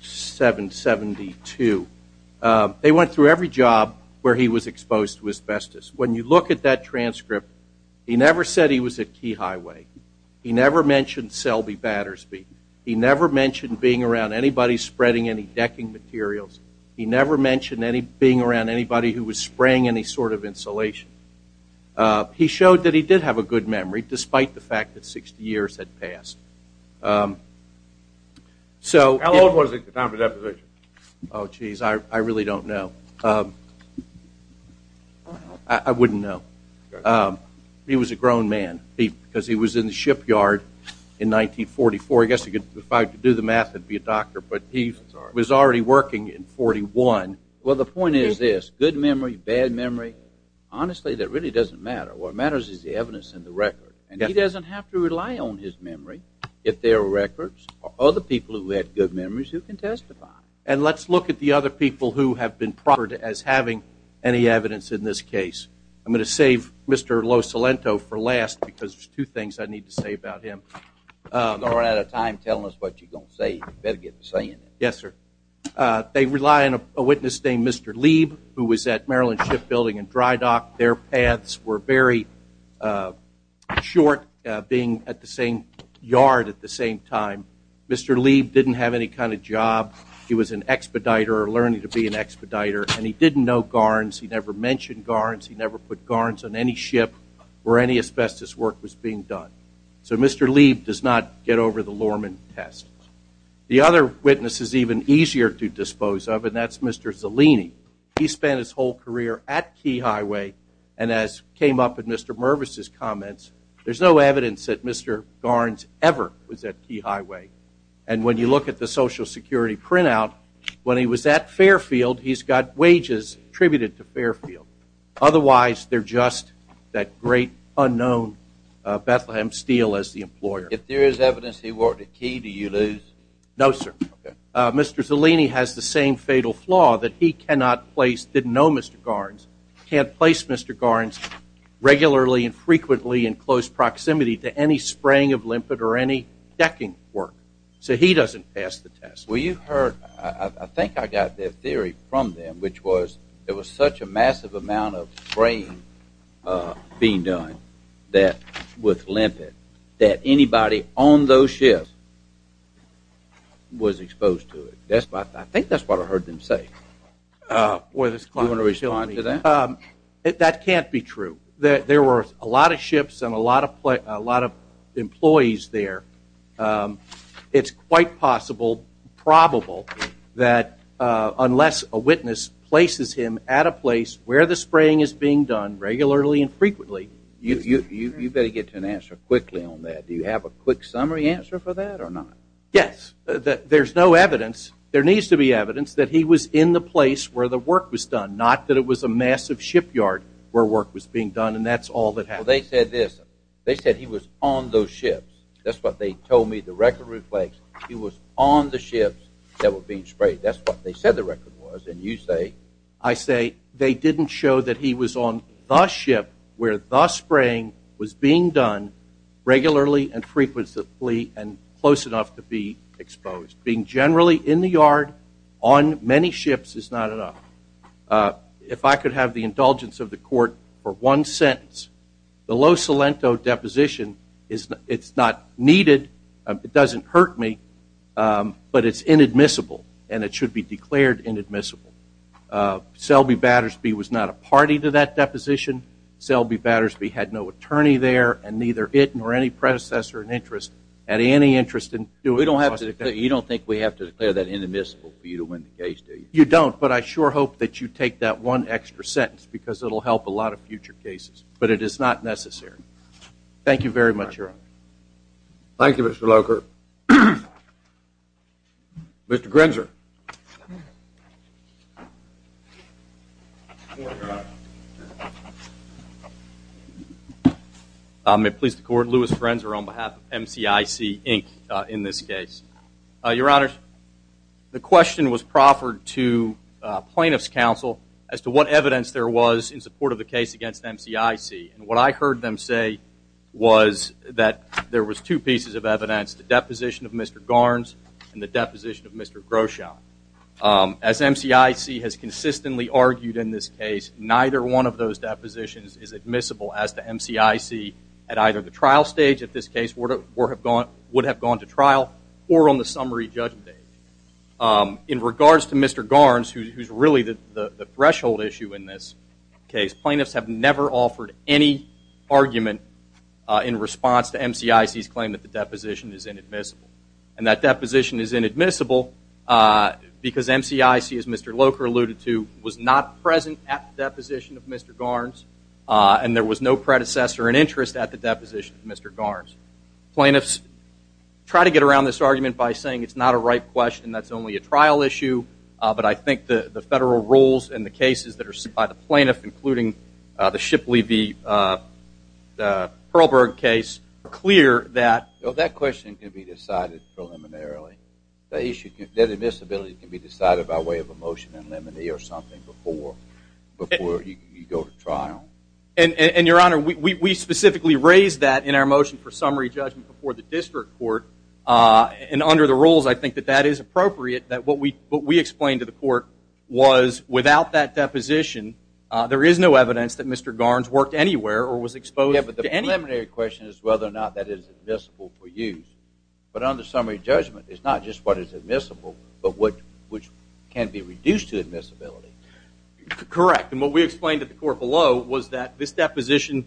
772. They went through every job where he was exposed to asbestos. When you look at that transcript, he never said he was at Key Highway. He never mentioned Selby Battersby. He never mentioned being around anybody spreading any decking materials. He never mentioned being around anybody who was spraying any sort of insulation. He showed that he did have a good memory, despite the fact that 60 years had passed. How old was he at the time of the deposition? Oh, geez, I really don't know. I wouldn't know. He was a grown man because he was in the shipyard in 1944. I guess if I could do the math, I'd be a doctor. But he was already working in 1941. Well, the point is this. Good memory, bad memory, honestly, that really doesn't matter. What matters is the evidence and the record. And he doesn't have to rely on his memory. If there are records of other people who had good memories, who can testify. And let's look at the other people who have been proffered as having any evidence in this case. I'm going to save Mr. Losalento for last because there's two things I need to say about him. You're out of time telling us what you're going to say. You better get to saying it. Yes, sir. They rely on a witness named Mr. Lieb, who was at Maryland Shipbuilding and Dry Dock. Their paths were very short being at the same yard at the same time. Mr. Lieb didn't have any kind of job. He was an expediter or learning to be an expediter, and he didn't know garns. He never mentioned garns. He never put garns on any ship where any asbestos work was being done. So Mr. Lieb does not get over the Lorman test. The other witness is even easier to dispose of, and that's Mr. Zellini. He spent his whole career at Key Highway, and as came up in Mr. Mervis's comments, there's no evidence that Mr. Garns ever was at Key Highway. And when you look at the Social Security printout, when he was at Fairfield, he's got wages attributed to Fairfield. Otherwise, they're just that great unknown Bethlehem Steel as the employer. If there is evidence he worked at Key, do you lose? No, sir. Mr. Zellini has the same fatal flaw that he cannot place, didn't know Mr. Garns, can't place Mr. Garns regularly and frequently in close proximity to any spraying of limpet or any decking work. So he doesn't pass the test. Well, you heard, I think I got that theory from them, which was there was such a massive amount of spraying being done with limpet that anybody on those ships was exposed to it. I think that's what I heard them say. Do you want to respond to that? That can't be true. There were a lot of ships and a lot of employees there. It's quite possible, probable, that unless a witness places him at a place where the spraying is being done regularly and frequently, you better get to an answer quickly on that. Do you have a quick summary answer for that or not? Yes. There's no evidence. There needs to be evidence that he was in the place where the work was done, not that it was a massive shipyard where work was being done, and that's all that happened. Well, they said this. They said he was on those ships. That's what they told me the record reflects. He was on the ships that were being sprayed. That's what they said the record was, and you say? I say they didn't show that he was on the ship where the spraying was being done regularly and frequently and close enough to be exposed. Being generally in the yard on many ships is not enough. If I could have the indulgence of the court for one sentence, the low cilento deposition, it's not needed, it doesn't hurt me, but it's inadmissible and it should be declared inadmissible. Selby Battersby was not a party to that deposition. Selby Battersby had no attorney there and neither it nor any predecessor in interest had any interest in doing it. You don't think we have to declare that inadmissible for you to win the case, do you? You don't, but I sure hope that you take that one extra sentence because it will help a lot of future cases, but it is not necessary. Thank you very much, Your Honor. Thank you, Mr. Locher. Mr. Grenzer. May it please the Court, Louis Grenzer on behalf of MCIC, Inc., in this case. Your Honor, the question was proffered to plaintiff's counsel as to what evidence there was in support of the case against MCIC, and what I heard them say was that there was two pieces of evidence, the deposition of Mr. Garns and the deposition of Mr. Groshon. As MCIC has consistently argued in this case, neither one of those depositions is admissible as to MCIC at either the trial stage, at this case would have gone to trial, or on the summary judgment age. In regards to Mr. Garns, who's really the threshold issue in this case, plaintiffs have never offered any argument in response to MCIC's claim that the deposition is inadmissible. And that deposition is inadmissible because MCIC, as Mr. Locher alluded to, was not present at the deposition of Mr. Garns, and there was no predecessor in interest at the deposition of Mr. Garns. Plaintiffs try to get around this argument by saying it's not a right question, that's only a trial issue, but I think the federal rules and the cases that are sued by the plaintiff, including the Shipley v. Pearlberg case, are clear that- That question can be decided preliminarily. That admissibility can be decided by way of a motion in limine or something before you go to trial. And, Your Honor, we specifically raised that in our motion for summary judgment before the district court, and under the rules, I think that that is appropriate, that what we explained to the court was without that deposition, there is no evidence that Mr. Garns worked anywhere or was exposed to any- Yeah, but the preliminary question is whether or not that is admissible for use. But under summary judgment, it's not just what is admissible, but what can be reduced to admissibility. Correct, and what we explained to the court below was that this deposition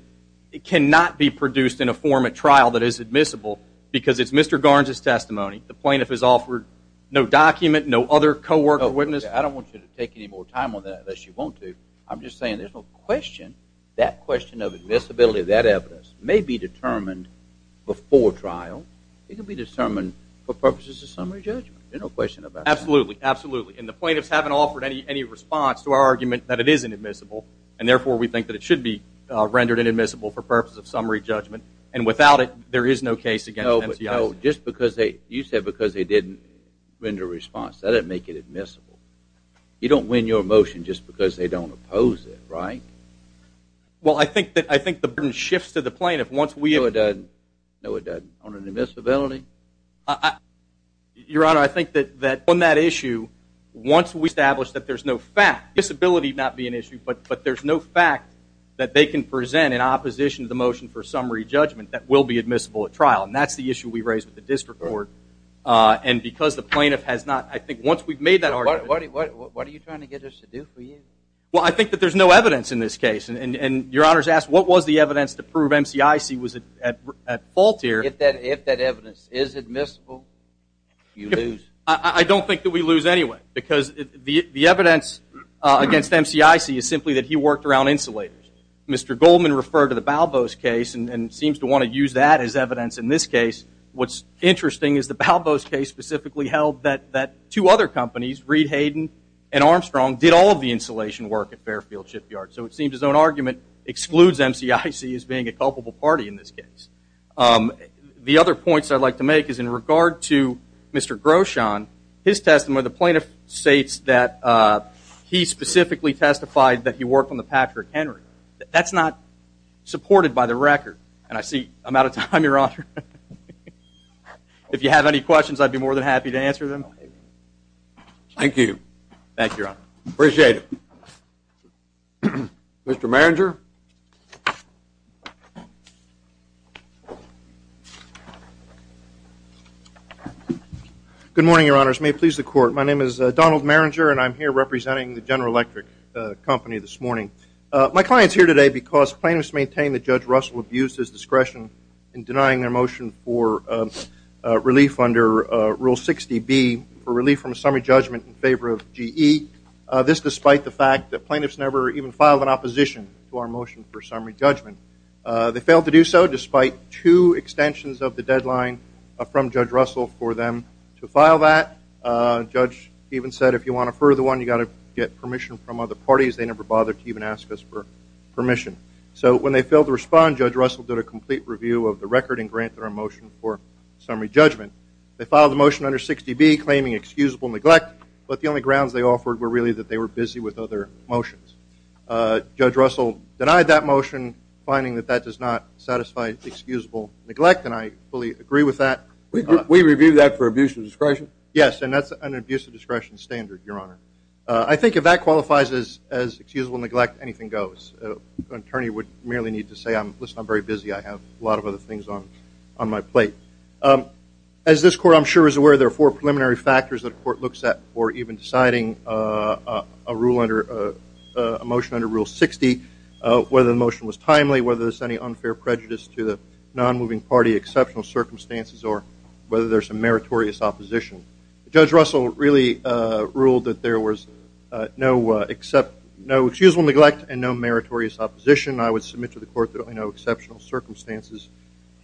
cannot be produced in a form at trial that is admissible because it's Mr. Garns' testimony. The plaintiff has offered no document, no other co-worker witness. I don't want you to take any more time on that unless you want to. I'm just saying there's no question that question of admissibility, that evidence may be determined before trial. It can be determined for purposes of summary judgment. There's no question about that. Absolutely, absolutely. And the plaintiffs haven't offered any response to our argument that it isn't admissible, and therefore we think that it should be rendered inadmissible for purposes of summary judgment. And without it, there is no case against the NCIS. No, but just because they didn't render a response, that doesn't make it admissible. You don't win your motion just because they don't oppose it, right? Well, I think the burden shifts to the plaintiff once we have. No, it doesn't. No, it doesn't. On an admissibility? Your Honor, I think that on that issue, once we establish that there's no fact, disability would not be an issue, but there's no fact that they can present in opposition to the motion for summary judgment that will be admissible at trial. And that's the issue we raised with the district court. And because the plaintiff has not, I think once we've made that argument. What are you trying to get us to do for you? Well, I think that there's no evidence in this case. And Your Honor's asked what was the evidence to prove NCIS was at fault here. If that evidence is admissible, you lose. I don't think that we lose anyway, because the evidence against NCIS is simply that he worked around insulators. Mr. Goldman referred to the Balboas case and seems to want to use that as evidence in this case. What's interesting is the Balboas case specifically held that two other companies, Reed Hayden and Armstrong, did all of the insulation work at Fairfield Shipyard. So it seems as though an argument excludes NCIS as being a culpable party in this case. The other points I'd like to make is in regard to Mr. Groshon, his testimony, the plaintiff states that he specifically testified that he worked on the Patrick Henry. That's not supported by the record. And I see I'm out of time, Your Honor. If you have any questions, I'd be more than happy to answer them. Thank you. Thank you, Your Honor. Appreciate it. Mr. Marringer. Good morning, Your Honors. May it please the Court. My name is Donald Marringer, and I'm here representing the General Electric Company this morning. My client's here today because plaintiffs maintain that Judge Russell abused his discretion in denying their motion for relief under Rule 60B, for relief from a summary judgment in favor of GE, this despite the fact that plaintiffs never even filed an opposition to our motion for summary judgment. They failed to do so despite two extensions of the deadline from Judge Russell for them to file that. Judge even said, if you want a further one, you've got to get permission from other parties. They never bothered to even ask us for permission. So when they failed to respond, Judge Russell did a complete review of the record and granted our motion for summary judgment. They filed the motion under 60B, claiming excusable neglect, but the only grounds they offered were really that they were busy with other motions. Judge Russell denied that motion, finding that that does not satisfy excusable neglect, and I fully agree with that. We reviewed that for abuse of discretion? Yes, and that's an abuse of discretion standard, Your Honor. I think if that qualifies as excusable neglect, anything goes. An attorney would merely need to say, listen, I'm very busy. I have a lot of other things on my plate. As this Court, I'm sure, is aware, there are four preliminary factors that a court looks at for even deciding a motion under Rule 60, whether the motion was timely, whether there's any unfair prejudice to the non-moving party, exceptional circumstances, or whether there's some meritorious opposition. Judge Russell really ruled that there was no excusable neglect and no meritorious opposition. I would submit to the Court that there are no exceptional circumstances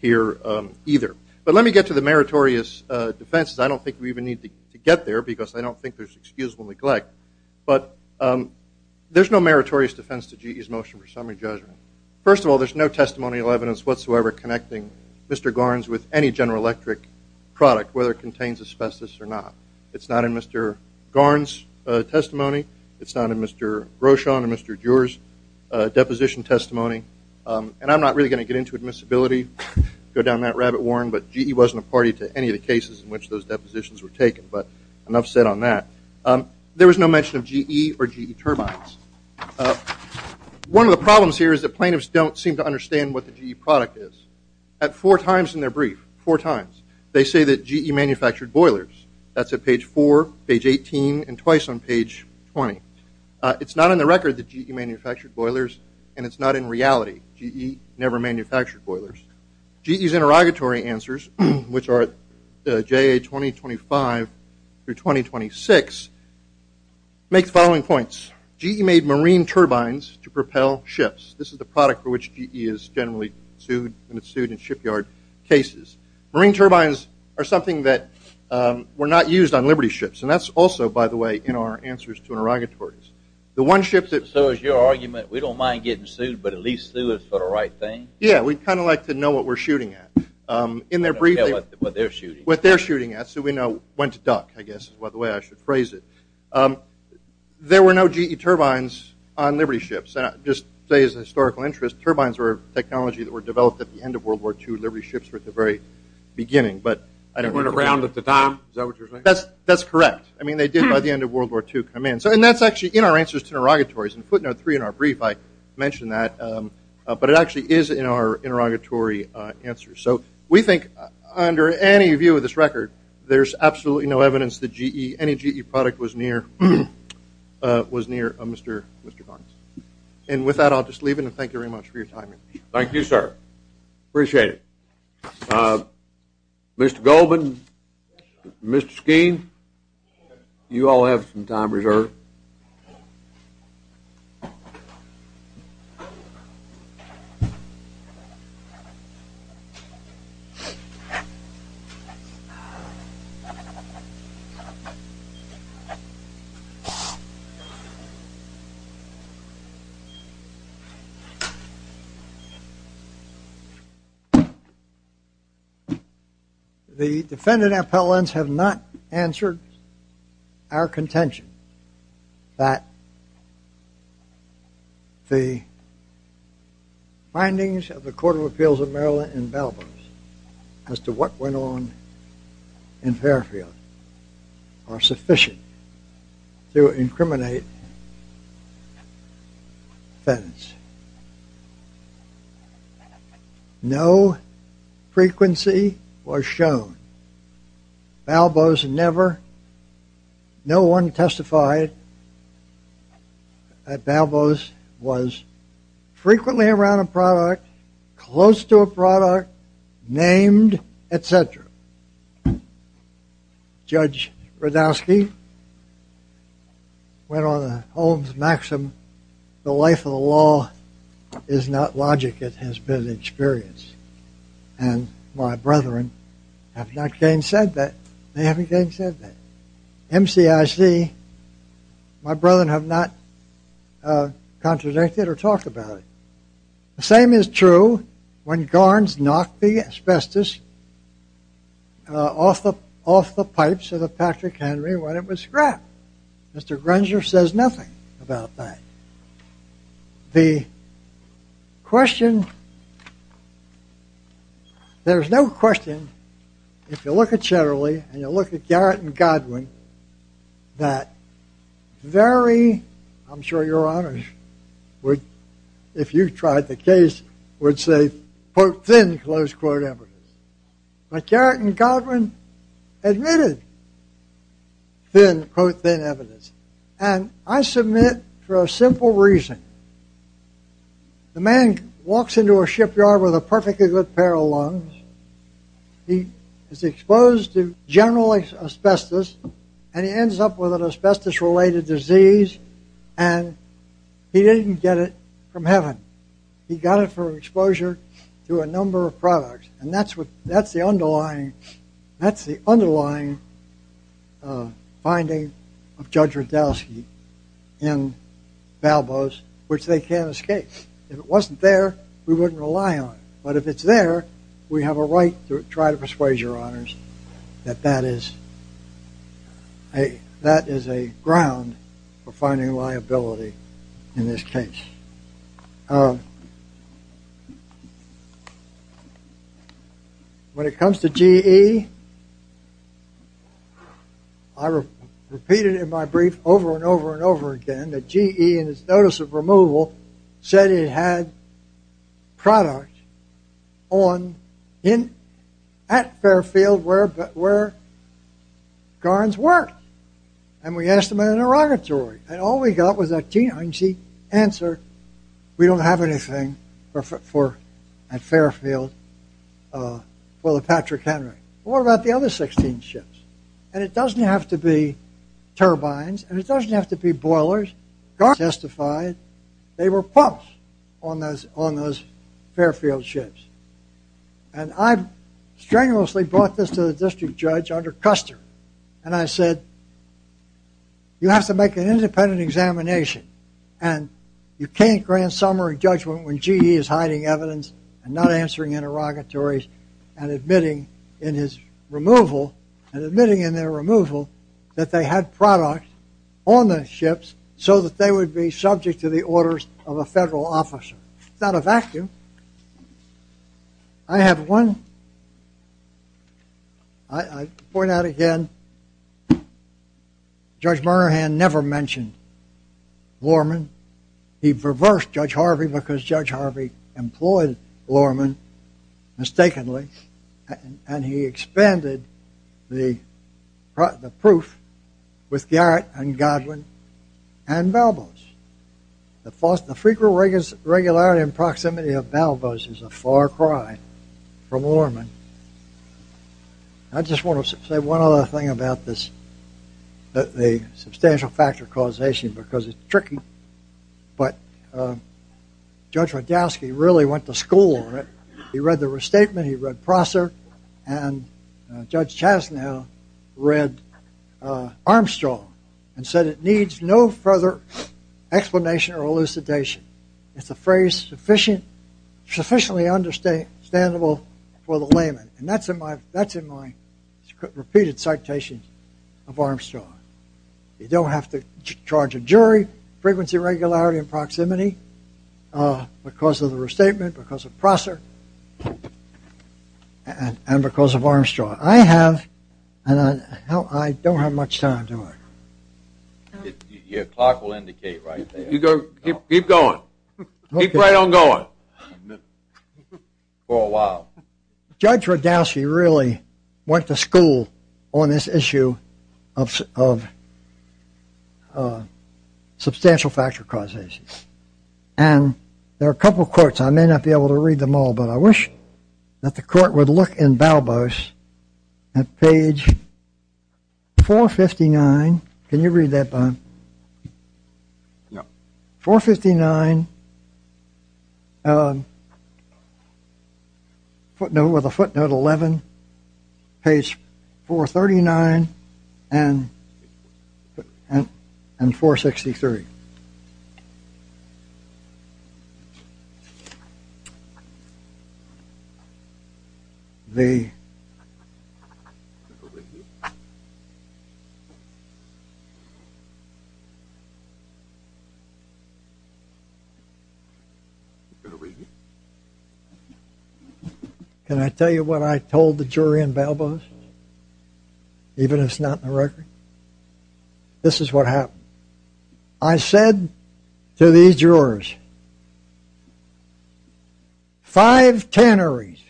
here either. But let me get to the meritorious defenses. I don't think we even need to get there because I don't think there's excusable neglect. But there's no meritorious defense to GE's motion for summary judgment. First of all, there's no testimonial evidence whatsoever connecting Mr. Garns with any General Electric product, whether it contains asbestos or not. It's not in Mr. Garns' testimony. It's not in Mr. Groshon and Mr. Durer's deposition testimony. And I'm not really going to get into admissibility, go down that rabbit horn, but GE wasn't a party to any of the cases in which those depositions were taken. But enough said on that. There was no mention of GE or GE turbines. One of the problems here is that plaintiffs don't seem to understand what the GE product is. At four times in their brief, four times, they say that GE manufactured boilers. That's at page 4, page 18, and twice on page 20. It's not in the record that GE manufactured boilers, and it's not in reality. GE never manufactured boilers. GE's interrogatory answers, which are at JA 2025 through 2026, make the following points. GE made marine turbines to propel ships. This is the product for which GE is generally sued, and it's sued in shipyard cases. Marine turbines are something that were not used on Liberty ships, and that's also, by the way, in our answers to interrogatories. So is your argument, we don't mind getting sued, but at least sue us for the right thing? Yeah, we'd kind of like to know what we're shooting at. Yeah, what they're shooting at. What they're shooting at, so we know when to duck, I guess, is the way I should phrase it. There were no GE turbines on Liberty ships. Just to say, as a historical interest, turbines were a technology that were developed at the end of World War II. Liberty ships were at the very beginning. They weren't around at the time. Is that what you're saying? That's correct. I mean, they did, by the end of World War II, come in. And that's actually in our answers to interrogatories. In footnote three in our brief, I mentioned that. But it actually is in our interrogatory answers. So we think, under any view of this record, there's absolutely no evidence that any GE product was near Mr. Barnes. And with that, I'll just leave it, and thank you very much for your time. Thank you, sir. Appreciate it. Mr. Goldman, Mr. Skeen, you all have some time reserved. The defendant appellants have not answered our contention that the findings of the Court of Appeals of Maryland in Balboas, as to what went on in Fairfield, are sufficient to incriminate defendants. No frequency was shown. Balboas never, no one testified that Balboas was frequently around a product, close to a product, named, etc. Judge Radowski went on the Holmes maxim, The life of the law is not logic, it has been an experience. And my brethren have not again said that. They haven't again said that. MCIC, my brethren have not contradicted or talked about it. The same is true when Garnes knocked the asbestos off the pipes of the Patrick Henry when it was scrap. Mr. Granger says nothing about that. The question, there's no question, if you look at Cheddarly, and you look at Garrett and Godwin, that very, I'm sure your honors would, if you tried the case, would say, quote, thin, close quote evidence. But Garrett and Godwin admitted thin, quote, thin evidence. And I submit for a simple reason. The man walks into a shipyard with a perfectly good pair of lungs. He is exposed to general asbestos, and he ends up with an asbestos-related disease, and he didn't get it from heaven. He got it from exposure to a number of products. And that's the underlying finding of Judge Radowski in Balboas, which they can't escape. If it wasn't there, we wouldn't rely on it. But if it's there, we have a right to try to persuade your honors that that is a ground for finding liability in this case. When it comes to GE, I repeated in my brief over and over and over again that GE, in its notice of removal, said it had product on, at Fairfield, where Garns worked. And we asked them in an interrogatory, and all we got was that GE answered, we don't have anything at Fairfield for the Patrick Henry. What about the other 16 ships? And it doesn't have to be turbines, and it doesn't have to be boilers. Garns testified they were pumps on those Fairfield ships. And I strenuously brought this to the district judge under Custer, and I said, you have to make an independent examination, and you can't grant summary judgment when GE is hiding evidence and not answering interrogatories and admitting in his removal and admitting in their removal that they had product on the ships so that they would be subject to the orders of a federal officer. It's not a vacuum. I have one, I point out again, Judge Moynihan never mentioned Vorman. He reversed Judge Harvey because Judge Harvey employed Vorman mistakenly, and he expanded the proof with Garrett and Godwin and Balboas. The frequent regularity and proximity of Balboas is a far cry from Vorman. I just want to say one other thing about the substantial factor causation because it's tricky, but Judge Rodowsky really went to school on it. He read the restatement, he read Prosser, and Judge Chastanet read Armstrong and said it needs no further explanation or elucidation. It's a phrase sufficiently understandable for the layman, and that's in my repeated citations of Armstrong. You don't have to charge a jury, frequency, regularity, and proximity because of the restatement, because of Prosser, and because of Armstrong. I have, and I don't have much time, do I? Your clock will indicate right there. Keep going, keep right on going for a while. Judge Rodowsky really went to school on this issue of substantial factor causation, and there are a couple of quotes, I may not be able to read them all, but I wish that the court would look in Balboas at page 459. Can you read that, Bob? 459, footnote 11, page 439, and 463. Can I tell you what I told the jury in Balboas? Even if it's not in the record? This is what happened. I said to these jurors, five tanneries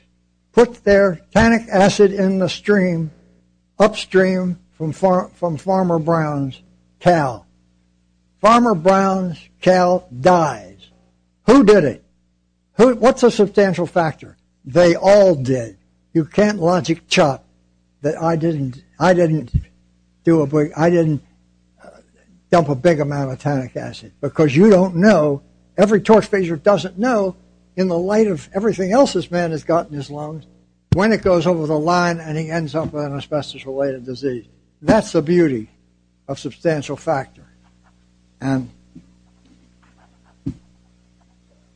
put their tannic acid in the stream, upstream from Farmer Brown's cow. Farmer Brown's cow dies. Who did it? What's a substantial factor? They all did. You can't logic chop that I didn't dump a big amount of tannic acid, because you don't know, every torch phaser doesn't know, in the light of everything else this man has got in his lungs, when it goes over the line and he ends up with an asbestos-related disease. That's the beauty of substantial factor. And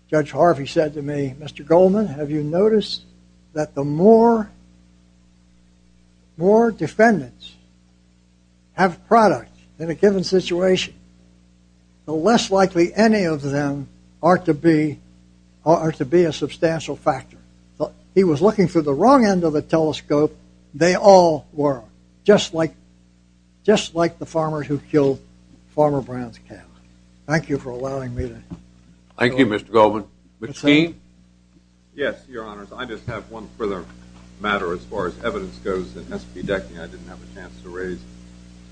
Judge Harvey said to me, Mr. Goldman, have you noticed that the more defendants have product in a given situation, the less likely any of them are to be a substantial factor. He was looking through the wrong end of the telescope. They all were, just like the farmer who killed Farmer Brown's cow. Thank you for allowing me to. Thank you, Mr. Goldman. McKean? Yes, Your Honors. I just have one further matter, as far as evidence goes, that has to be decked and I didn't have a chance to raise.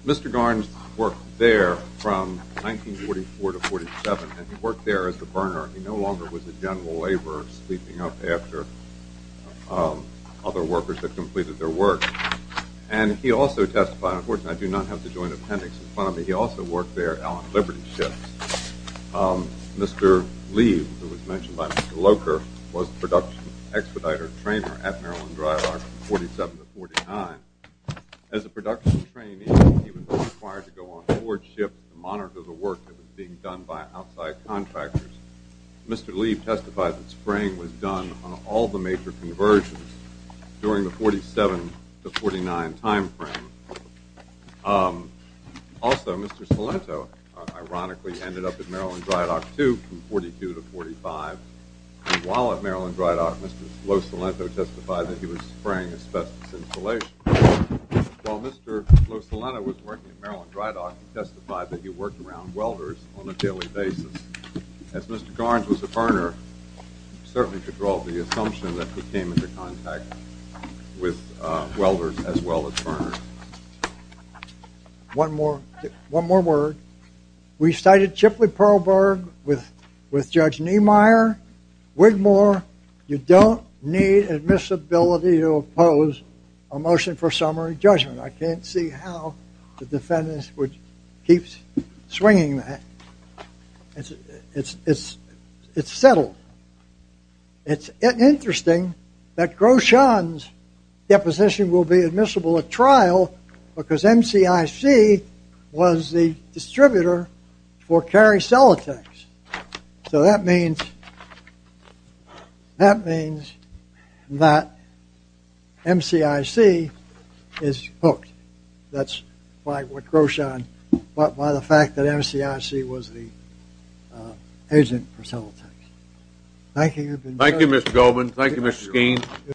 Mr. Garns worked there from 1944 to 1947, and he worked there as a burner. He no longer was a general laborer, he was sleeping up after other workers had completed their work. And he also testified, unfortunately I do not have the joint appendix in front of me, he also worked there on liberty ships. Mr. Leib, who was mentioned by Mr. Locher, was a production expediter trainer at Maryland Dry Lock from 1947 to 1949. As a production trainee, he was required to go on board ships to monitor the work that was being done by outside contractors. Mr. Leib testified that spraying was done on all the major conversions during the 1947 to 1949 time frame. Also, Mr. Salento, ironically, ended up at Maryland Dry Dock, too, from 1942 to 1945. And while at Maryland Dry Dock, Mr. Lo Salento testified that he was spraying asbestos insulation. While Mr. Lo Salento was working at Maryland Dry Dock, he testified that he worked around welders on a daily basis. As Mr. Garns was a burner, you certainly could draw the assumption that he came into contact with welders as well as burners. One more word. We cited Chipley Pearlberg with Judge Niemeyer, Wigmore. You don't need admissibility to oppose a motion for summary judgment. I can't see how the defendants would keep swinging that. It's settled. It's interesting that Groschan's deposition will be admissible at trial because MCIC was the distributor for carry cell attacks. So that means that MCIC is hooked. That's what Groschan thought by the fact that MCIC was the agent for cell attacks. Thank you. Thank you, Mr. Goldman. Thank you, Mr. Skeen.